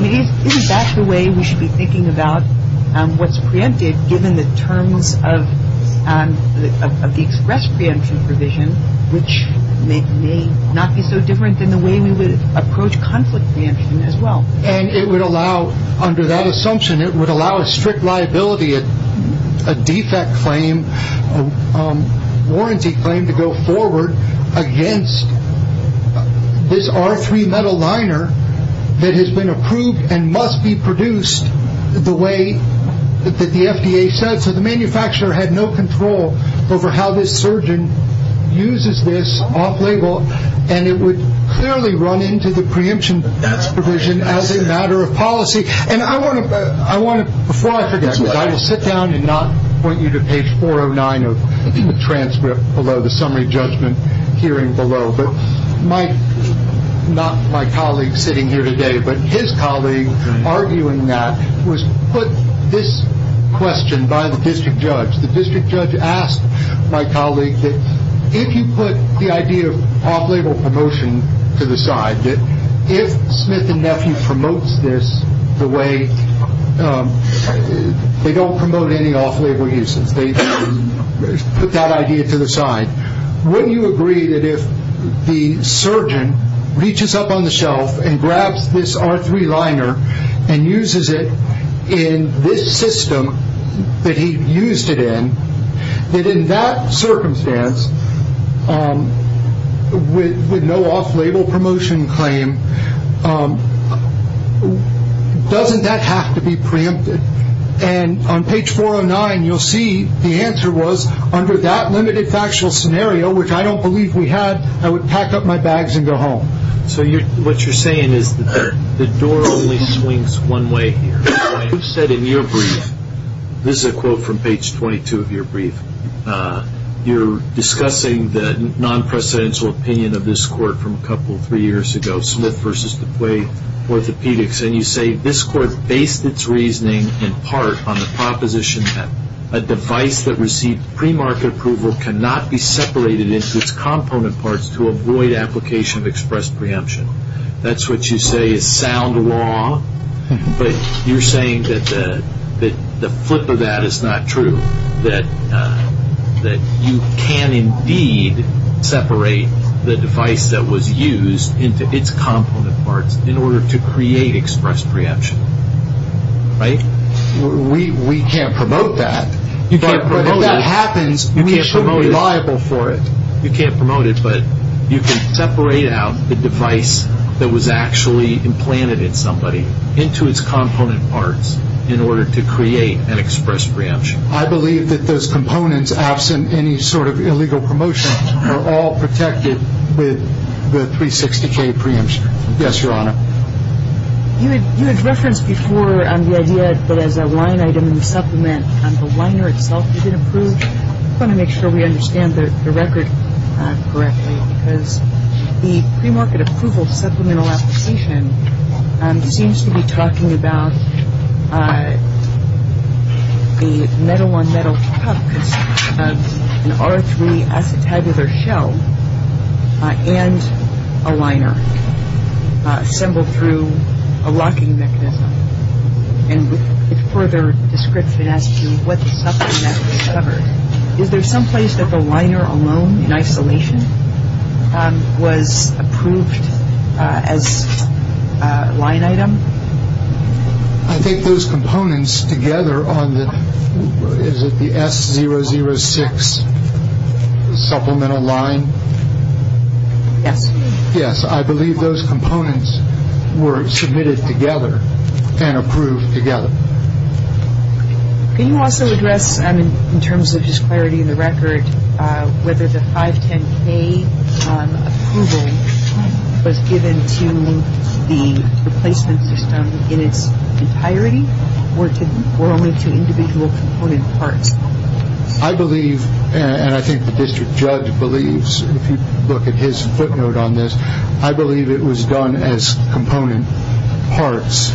Maybe that's the way we should be thinking about what's preempted, given the terms of the express preemption provision, which may not be so different than the way we would approach conflict preemption as well. And it would allow, under that assumption, it would allow a strict liability, a defect claim, warranty claim to go forward against this arc-free metal liner that has been approved and must be produced the way that the FDA says. So the manufacturer had no control over how this surgeon uses this off-label, and it would clearly run into the preemption provision as a matter of policy. And I want to, before I finish this, I will sit down and not point you to page 409 of the transcript below, the summary judgment hearing below, but my, not my colleague sitting here today, but his colleague arguing that was put this question by the district judge. The district judge asked my colleague that if you put the idea of off-label promotion to the side, that if Smith and Nephew promotes this the way, they don't promote any off-label uses, they put that idea to the side, wouldn't you agree that if the surgeon reaches up on the shelf and grabs this arc-free liner and uses it in this system that he used it in, that in that circumstance, with no off-label promotion claim, doesn't that have to be preempted? And on page 409 you'll see the answer was under that limited factual scenario, which I don't believe we had, I would pack up my bags and go home. So what you're saying is the door only swings one way. You said in your brief, this is a quote from page 22 of your brief, you're discussing the non-presidential opinion of this court from a couple, three years ago, Smith v. DeQuay Orthopedics, and you say, this court based its reasoning in part on the proposition that a device that received premarket approval cannot be separated into its component parts to avoid application of express preemption. That's what you say is sound law, but you're saying that the flip of that is not true, that you can indeed separate the device that was used into its component parts in order to create express preemption, right? We can't promote that. If that happens, we shouldn't be liable for it. You can't promote it, but you can separate out the device that was actually implanted in somebody into its component parts in order to create an express preemption. I believe that those components, absent any sort of illegal promotion, are all protected with the 360K preemption. Yes, Your Honor. You had referenced before on the idea that as a line item in the supplement, the liner itself is going to be approved. I just want to make sure we understand the record correctly, because the premarket approval supplemental application seems to be talking about a metal-on-metal cup, an RO3 isotabular shell, and a liner assembled through a locking mechanism. And with further description as to what the supplement is covered, is there some place that the liner alone in isolation was approved as a line item? I think those components together on the S006 supplemental line, Yes. Yes, I believe those components were submitted together and approved together. Can you also address, in terms of just clarity of the record, whether the 510K approval was given to the replacement person in its entirety or only to the individual component part? I believe, and I think the district judge believes, if you look at his footnote on this, I believe it was done as component parts.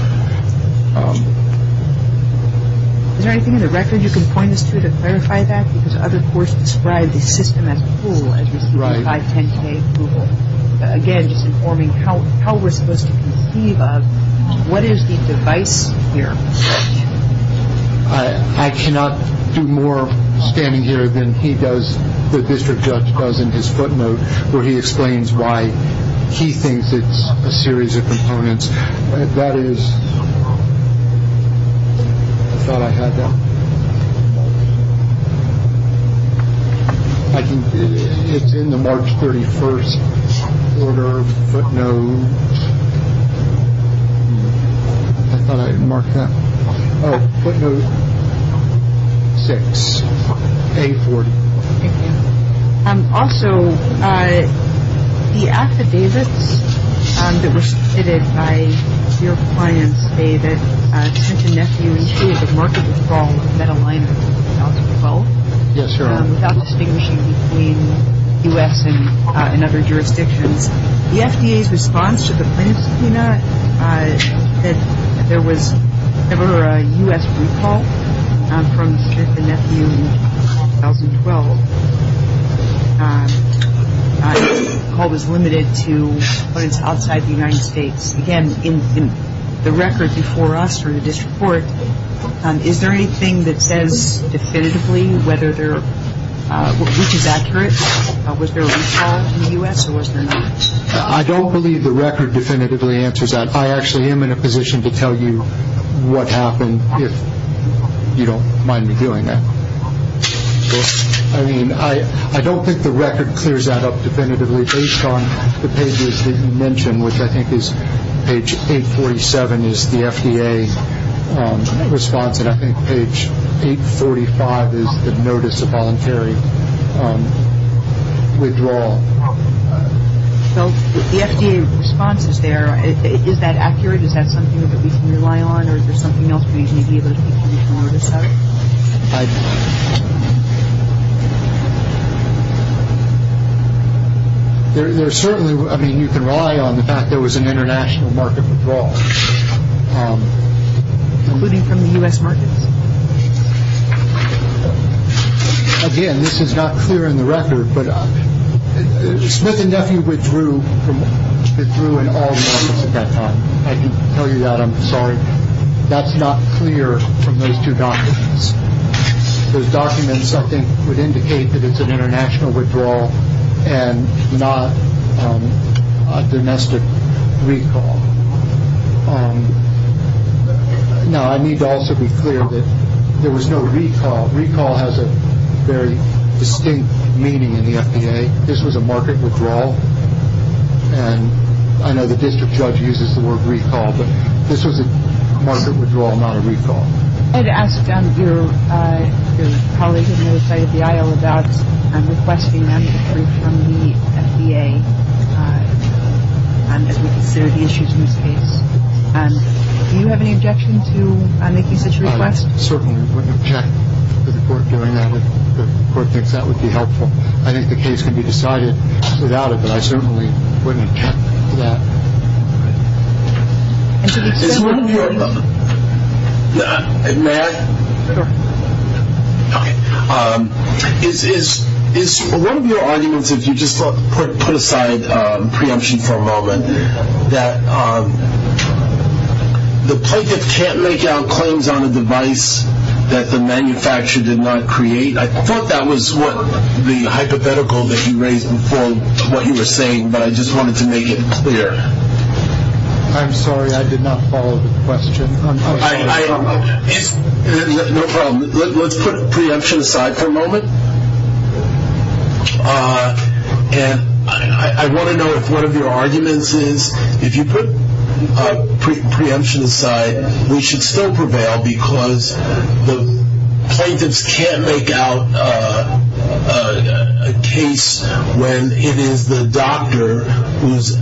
Is there anything in the record you can point us to to clarify that? Because other courts described the system as full, as the 510K approval. Again, just informing how we're supposed to conceive of what is the device here. I cannot do more standing here than he does, the district judge does in his footnote, where he explains why he thinks it's a series of components. It's in the March 31st footnote. Footnote 6. Also, the Act of Davis, that was submitted by your client, say that such an FDA should be marked as involved in a line item as well. Yes, sir. Without distinguishing between U.S. and other jurisdictions. The FDA's response to the print footnote said there was never a U.S. recall from the particular nephew in 2012. The call was limited to what is outside the United States. Again, in the record before us or the district court, is there anything that says definitively which is accurate? Was there a recall from the U.S. or was there not? I don't believe the record definitively answers that. I actually am in a position to tell you what happened if you don't mind me doing that. I mean, I don't think the record clears that up definitively based on the pages that you mentioned, which I think is page 847 is the FDA response, and I think page 845 is the notice of voluntary withdrawal. So, the FDA response is there. Is that accurate? Is that something that we can rely on or is there something else we can be able to control or discard? I don't know. There certainly, I mean, you can rely on the fact there was an international market withdrawal. Including from the U.S. market? Again, this is not clear in the record, but Smith and Nephew withdrew from all markets at that time. I can tell you that. I'm sorry. That's not clear from those two documents. Those documents, I think, would indicate that it's an international withdrawal and not domestic recall. Now, I need to also be clear that there was no recall. Recall has a very distinct meaning in the FDA. This was a market withdrawal, and I know the district judge uses the word recall, but this was a market withdrawal, not a recall. I had asked one of your colleagues on the other side of the aisle about requesting an answer from the FDA. There are issues in this case. Do you have any objection to making such a request? I certainly wouldn't object to the court doing that. The court thinks that would be helpful. I think the case can be decided without it, but I certainly wouldn't object to that. Matt, is one of your arguments that you just put aside preemption for a moment, that the plaintiff can't make out claims on a device that the manufacturer did not create? I thought that was the hypothetical that you raised before what you were saying, but I just wanted to make it clear. I'm sorry. I did not follow the question. No problem. Let's put preemption aside for a moment. And I want to know if one of your arguments is if you put preemption aside, we should still prevail because the plaintiffs can't make out a case when it is the doctor who is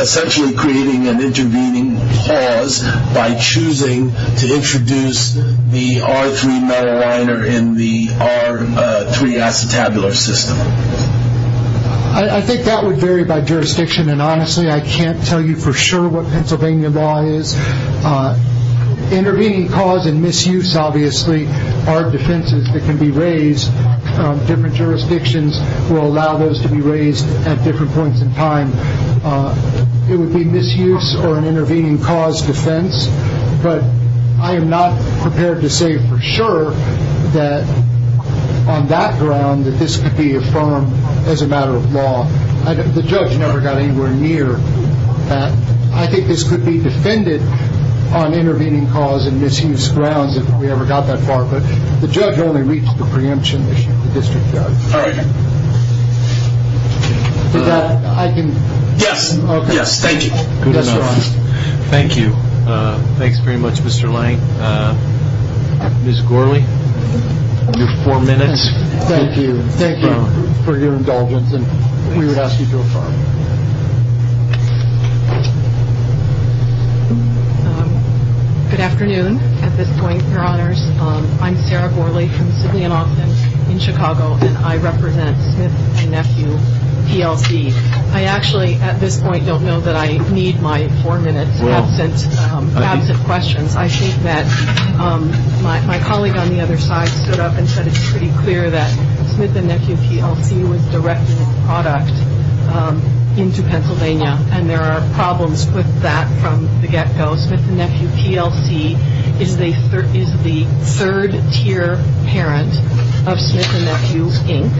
essentially creating an intervening cause by choosing to introduce the R3 metal liner in the R3 acetabular system. I think that would vary by jurisdiction, and honestly, I can't tell you for sure what Pennsylvania law is. Intervening cause and misuse, obviously, are defenses that can be raised. Different jurisdictions will allow those to be raised at different points in time. It would be misuse or an intervening cause defense, but I am not prepared to say for sure that on that ground that this could be affirmed as a matter of law. The judge never got anywhere near that. I think this could be defended on intervening cause and misuse grounds if we ever got that far, but the judge only meets the preemption issue, the district judge. All right. Yes. Yes, thank you. Thank you. Thanks very much, Mr. Lang. Ms. Gourley, your four minutes. Thank you. Thank you for your indulgence, and we would ask you to go forward. Good afternoon. At this point, your honors, I am Sarah Gourley from the City of Austin in Chicago, and I represent Smith & Nephew TLC. I actually, at this point, don't know that I need my four-minute absent questions. I think that my colleague on the other side stood up and said it is pretty clear that Smith & Nephew TLC is the third-tier parent of Smith & Nephew Inc.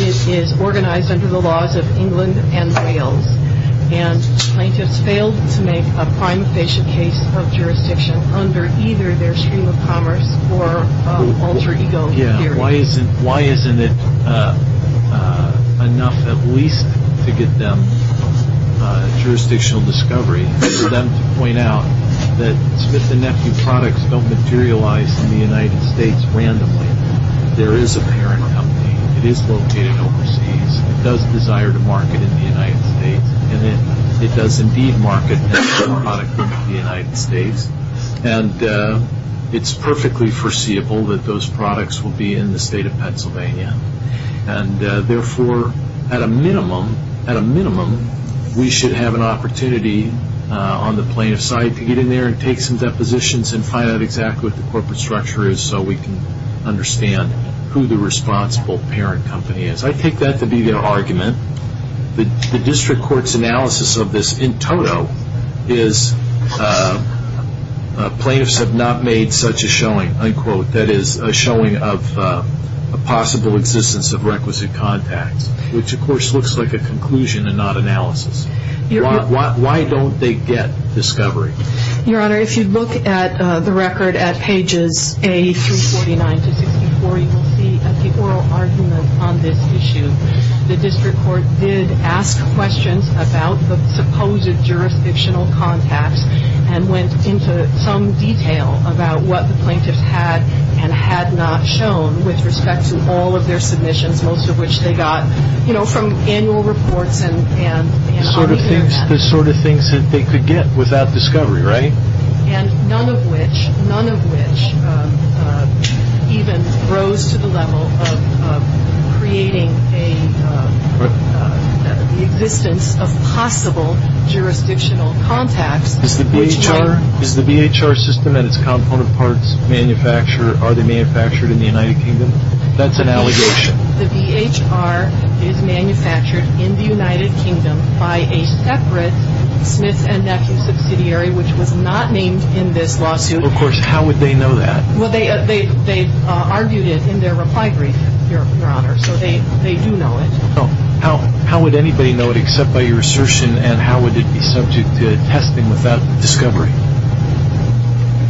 It is organized under the laws of England and Braille, and I just failed to make a prime patient case of jurisdiction under either their stream of commerce or alter ego theory. I think it is fair to point out that Smith & Nephew products don't materialize in the United States randomly. There is a parent company. It is located overseas. It does desire to market in the United States, and it does, indeed, market product from the United States, and it is perfectly foreseeable that those products will be in the state of Pennsylvania. Therefore, at a minimum, we should have an opportunity on the plaintiff's side to get in there and take some depositions and find out exactly what the corporate structure is so we can understand who the responsible parent company is. I take that to be an argument. The district court's analysis of this in total is plaintiffs have not made such a showing, unquote, that is, a showing of a possible existence of requisite contacts, which, of course, looks like a conclusion and not analysis. Why don't they get discovery? Your Honor, if you look at the record at pages A349 to A344, you will see an oral argument on this issue. The district court did ask questions about the supposed jurisdictional contacts and went into some detail about what the plaintiff had and had not shown with respect to all of their submissions, most of which they got from annual reports. The sort of things that they could get without discovery, right? None of which even rose to the level of creating an existence of possible jurisdictional contacts. Is the BHR system and its counterparts manufactured in the United Kingdom? That's an allegation. The BHR is manufactured in the United Kingdom by a separate Smith & Beckham subsidiary which does not mean in this lawsuit. Of course, how would they know that? Well, they argued it in their reply brief, Your Honor, so they do know it. How would anybody know it except by your assertion, and how would it be subject to testing without discovery?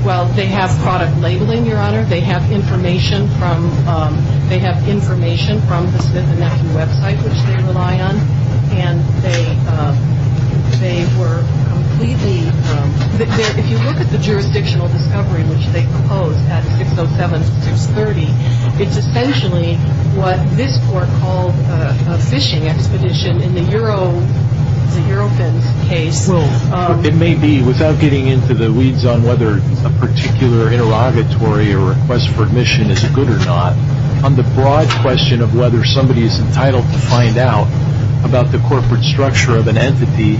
Well, they have product labeling, Your Honor. They have information from the Smith & Beckham website, which they rely on, and if you look at the jurisdictional discovery which they proposed at 607.630, it's essentially what this court called a fishing expedition in the Eurofins case. It may be, without getting into the weeds on whether a particular interrogatory or request for admission is good or not, on the broad question of whether somebody is entitled to find out about the corporate structure of an entity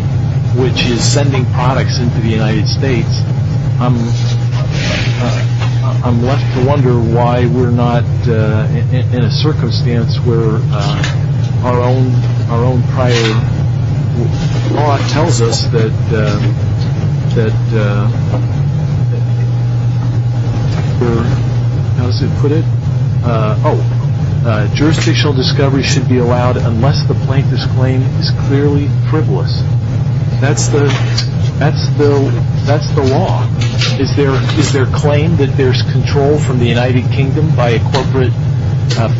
which is sending products into the United States, I'm left to wonder why we're not in a circumstance where our own prior law tells us that, for those who put it, jurisdictional discovery should be allowed unless the plaintiff's claim is clearly frivolous. That's the law. If their claim that there's control from the United Kingdom by a corporate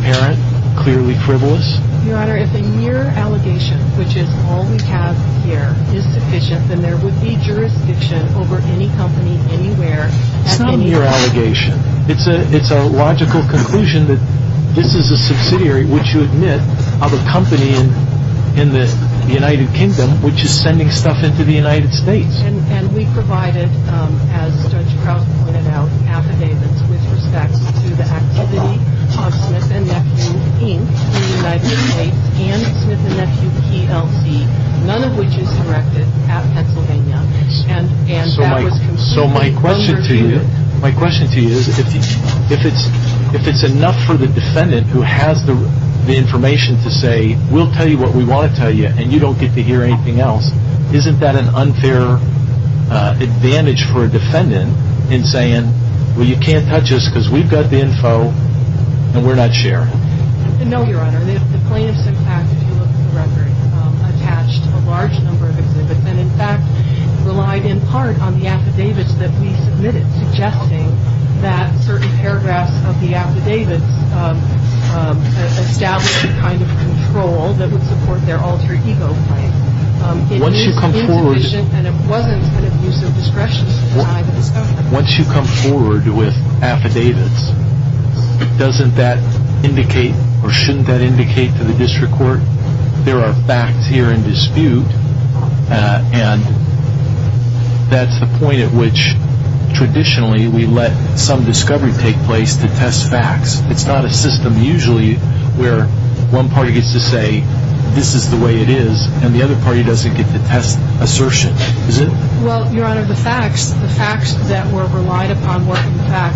parent, clearly frivolous. Your Honor, if the mere allegation, which is all we have here, is sufficient, then there would be jurisdiction over any company anywhere. It's not a mere allegation. It's a logical conclusion that this is a subsidiary, which you admit, of a company in the United Kingdom which is sending stuff into the United States. And we provided, as Judge Cross pointed out, affidavits with respect to the activity in the United States and with an FUTLD, none of which is corrected at Pennsylvania. So my question to you is, if it's enough for the defendant who has the information to say, we'll tell you what we want to tell you and you don't get to hear anything else, isn't that an unfair advantage for a defendant in saying, well, you can't touch us because we've got the info and we're not sharing it? No, Your Honor. The plaintiff has, in fact, attached a large number of evidence and, in fact, relied in part on the affidavits that we submitted, suggesting that certain paragraphs of the affidavits established a kind of control that would support their alter ego claim. Once you come forward with affidavits, doesn't that indicate, or shouldn't that indicate to the district court, there are facts here in dispute and that's the point at which traditionally we let some discovery take place to test facts. It's not a system usually where one party gets to say, this is the way it is, and the other party doesn't get to pass assertions, is it? Well, Your Honor, the facts that were relied upon were, in fact,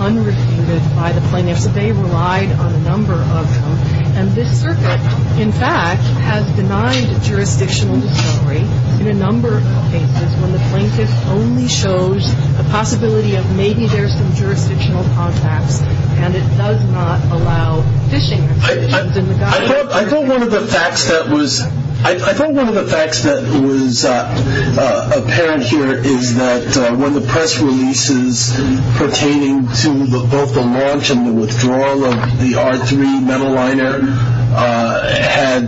understated by the plaintiff, but they relied on a number of them, and this circuit, in fact, has denied a jurisdictional discovery in a number of cases when the plaintiff only shows a possibility of maybe there's some jurisdictional contact and it does not allow fishing. I think one of the facts that was apparent here is that one of the press releases pertaining to both the launch and the withdrawal of the R3 metal liner had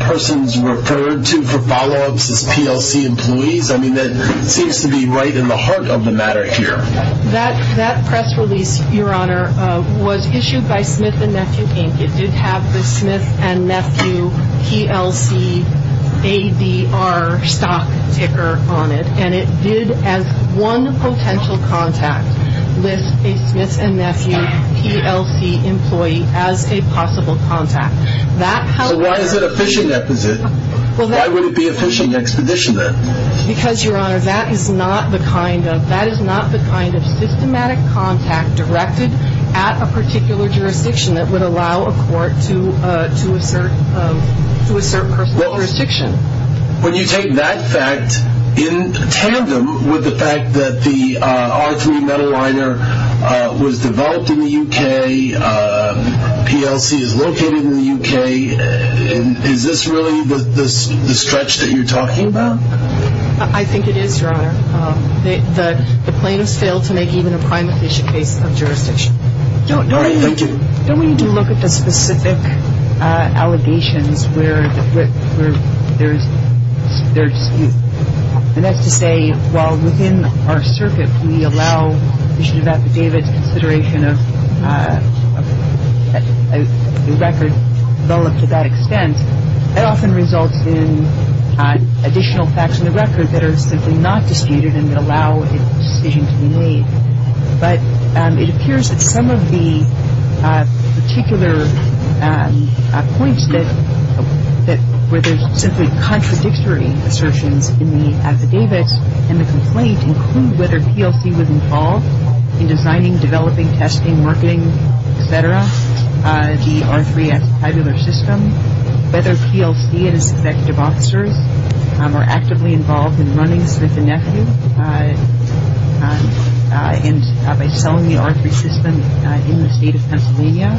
persons referred to for follow-ups as PLC employees. I mean, that seems to be right in the heart of the matter here. That press release, Your Honor, was issued by Smith & Nephew Inc. It did have the Smith & Nephew PLC ADR stock ticker on it, and it did have one potential contact with a Smith & Nephew PLC employee as a possible contact. Why is it a fishing exposition? Why would it be a fishing exposition then? Because, Your Honor, that is not the kind of systematic contact directed at a particular jurisdiction that would allow a court to assert personal jurisdiction. When you take that fact in tandem with the fact that the R3 metal liner was developed in the U.K., PLC is located in the U.K., is this really the stretch that you're talking about? I think it is, Your Honor. The plaintiffs failed to make even a prime fishing case of jurisdiction. All right, thank you. And we do look at the specific allegations where there's, and that's to say, while within our circuits we allow the consideration of the record to that extent, that often results in additional facts in the record that are not disputed and that allow a decision to be made. But it appears that some of the particular points where there's simply contradictory assertions in the affidavits and the complaints include whether PLC was involved in designing, developing, testing, marketing, et cetera, the R3 Aquabular System, whether PLC and its executive officers were actively involved in running Smith & Nephews and by selling the R3 system in the state of Pennsylvania,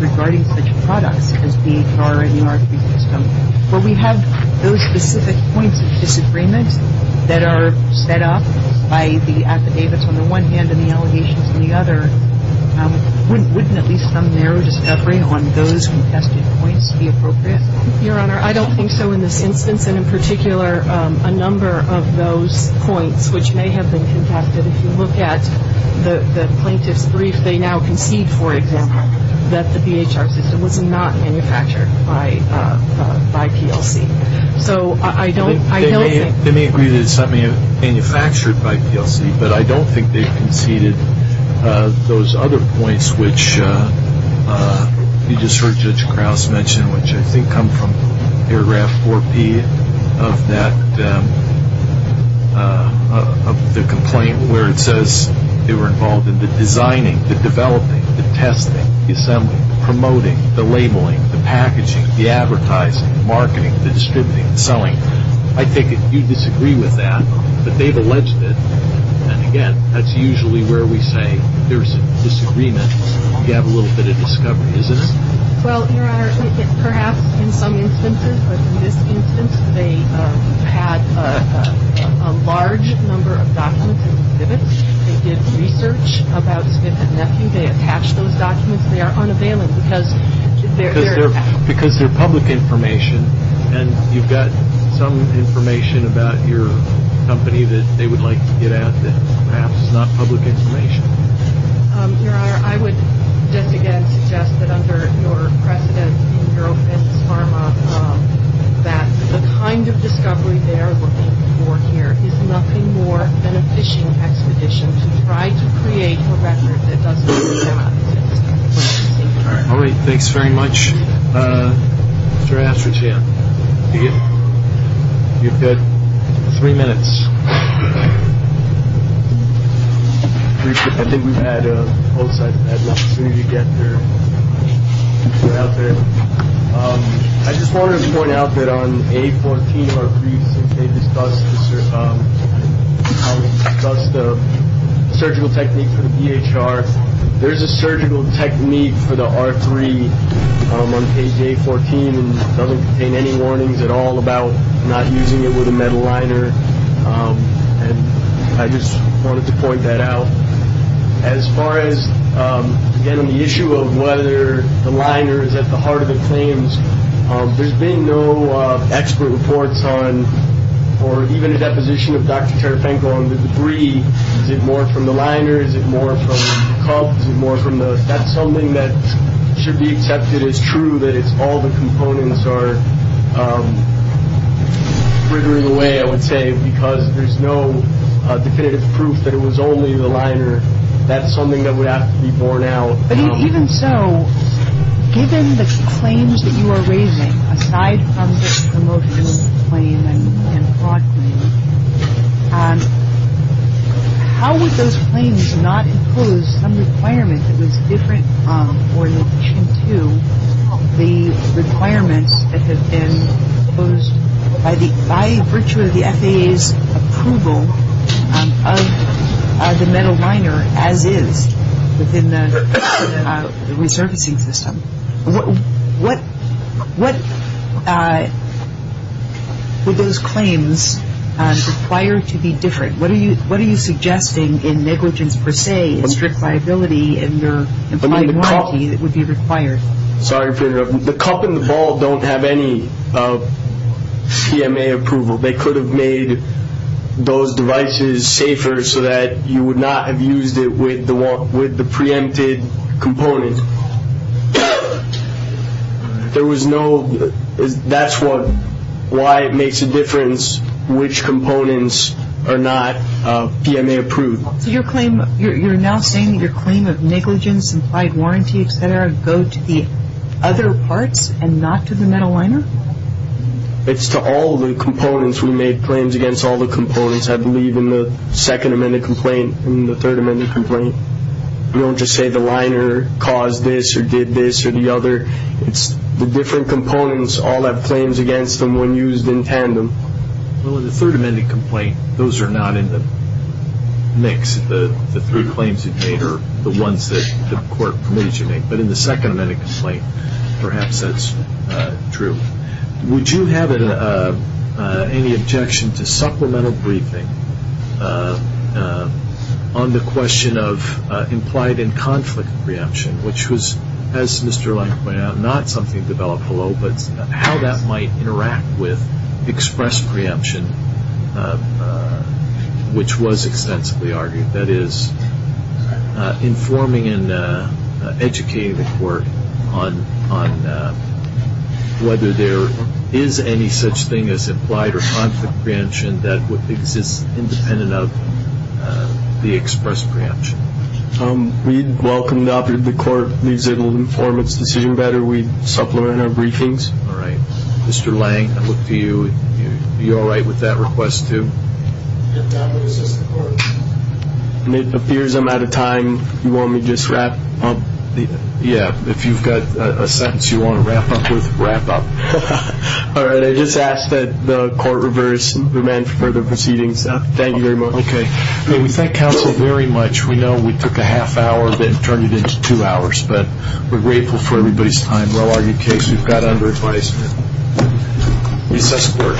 regarding such products as these are in the R3 system. So we have those specific points of disagreement that are set up by the affidavits on the one hand and the allegations on the other. Wouldn't at least some narrow discovery on those contested points be appropriate? Your Honor, I don't think so in this instance, and in particular a number of those points which may have been conducted. If you look at the plaintiff's brief, they now concede, for example, that the DHR system was not manufactured by PLC. So I don't think... They may agree that it's manufactured by PLC, but I don't think they conceded those other points which you just heard Judge Krause mention, which I think come from paragraph 4B of that complaint where it says they were involved in the designing, the developing, the testing, the assembling, the promoting, the labeling, the packaging, the advertising, the marketing, the distributing, the selling. I think you'd disagree with that, but they've alleged that. And again, that's usually where we say there's a disagreement. You have a little bit of discovery, isn't it? Well, Your Honor, I think it's perhaps in some instances, but in this instance they had a large number of documents in the exhibit. They did research about the exhibit, and that's when they attached those documents. They are unavailable because they're... Because they're public information, and you've got some information about your company that they would like to get at that perhaps is not public information. Your Honor, I would then again suggest that under your precedent, in your own testimony, that the kind of discovery they are looking for here is nothing more than a fishing expedition to try to create a record that doesn't do that. All right, thanks very much. Your Honor, I appreciate it. You're good. Three minutes. I think we've had folks, I'd like to get their input out there. I just wanted to point out that on page A14 of our brief, they discussed the surgical technique for the EHR. There's a surgical technique for the R3 on page A14, and it doesn't contain any warnings at all about not using it with a metal liner. I just wanted to point that out. As far as, again, the issue of whether the liner is at the heart of the claims, there's been no expert reports on, or even a deposition with Dr. Karafenko on the degree. Is it more from the liner? Is it more from the cup? Is it more from the test? Something that should be accepted as true, that it's all the components are sprinkling away, I would say, because there's no definitive proof that it was only the liner. That's something that would have to be borne out. I mean, even so, given the claims that you are raising, aside from the promotional claim that you had brought me, how would those claims not include some requirement that was different or in relation to the requirement that was by virtue of the FAA's approval of the metal liner as is within the resurfacing system? What would those claims require to be different? What are you suggesting in negligence per se, in strict liability in the quality that would be required? Sorry to interrupt. The cup and the ball don't have any CMA approval. They could have made those devices safer so that you would not have used it with the preempted component. That's why it makes a difference which components are not CMA approved. So you're now saying that your claim of negligence, implied warranty, et cetera, go to the other part and not to the metal liner? It's to all the components. We made claims against all the components, I believe, in the second amended complaint and the third amended complaint. We don't just say the liner caused this or did this or the other. It's the different components, all that claims against them when used in tandem. Well, in the third amended complaint, those are not in the mix. The three claims that you made are the ones that the court permits you to make. But in the second amended complaint, perhaps that's true. Would you have any objection to supplemental briefing on the question of implied and conflict preemption, which was, as Mr. Lange pointed out, not something developed alone, but how that might interact with expressed preemption, which was extensively argued, that is, informing and educating the court on whether there is any such thing as implied or conflict preemption that would exist independent of the expressed preemption? We'd welcome it. The court needs to inform its decision whether we supplement our briefings. All right. Mr. Lange, would you be all right with that request, too? If that was the report. It appears I'm out of time. Do you want me to just wrap up? Yeah. If you've got a sentence you want to wrap up with, wrap up. All right. I just ask that the court reverse and prevent further proceedings. Thank you very much. Okay. Thank counsel very much. We know we took a half hour, then turned it into two hours. But we're grateful for everybody's time. We'll see you tomorrow on your case. You've got under-advice. It's just work.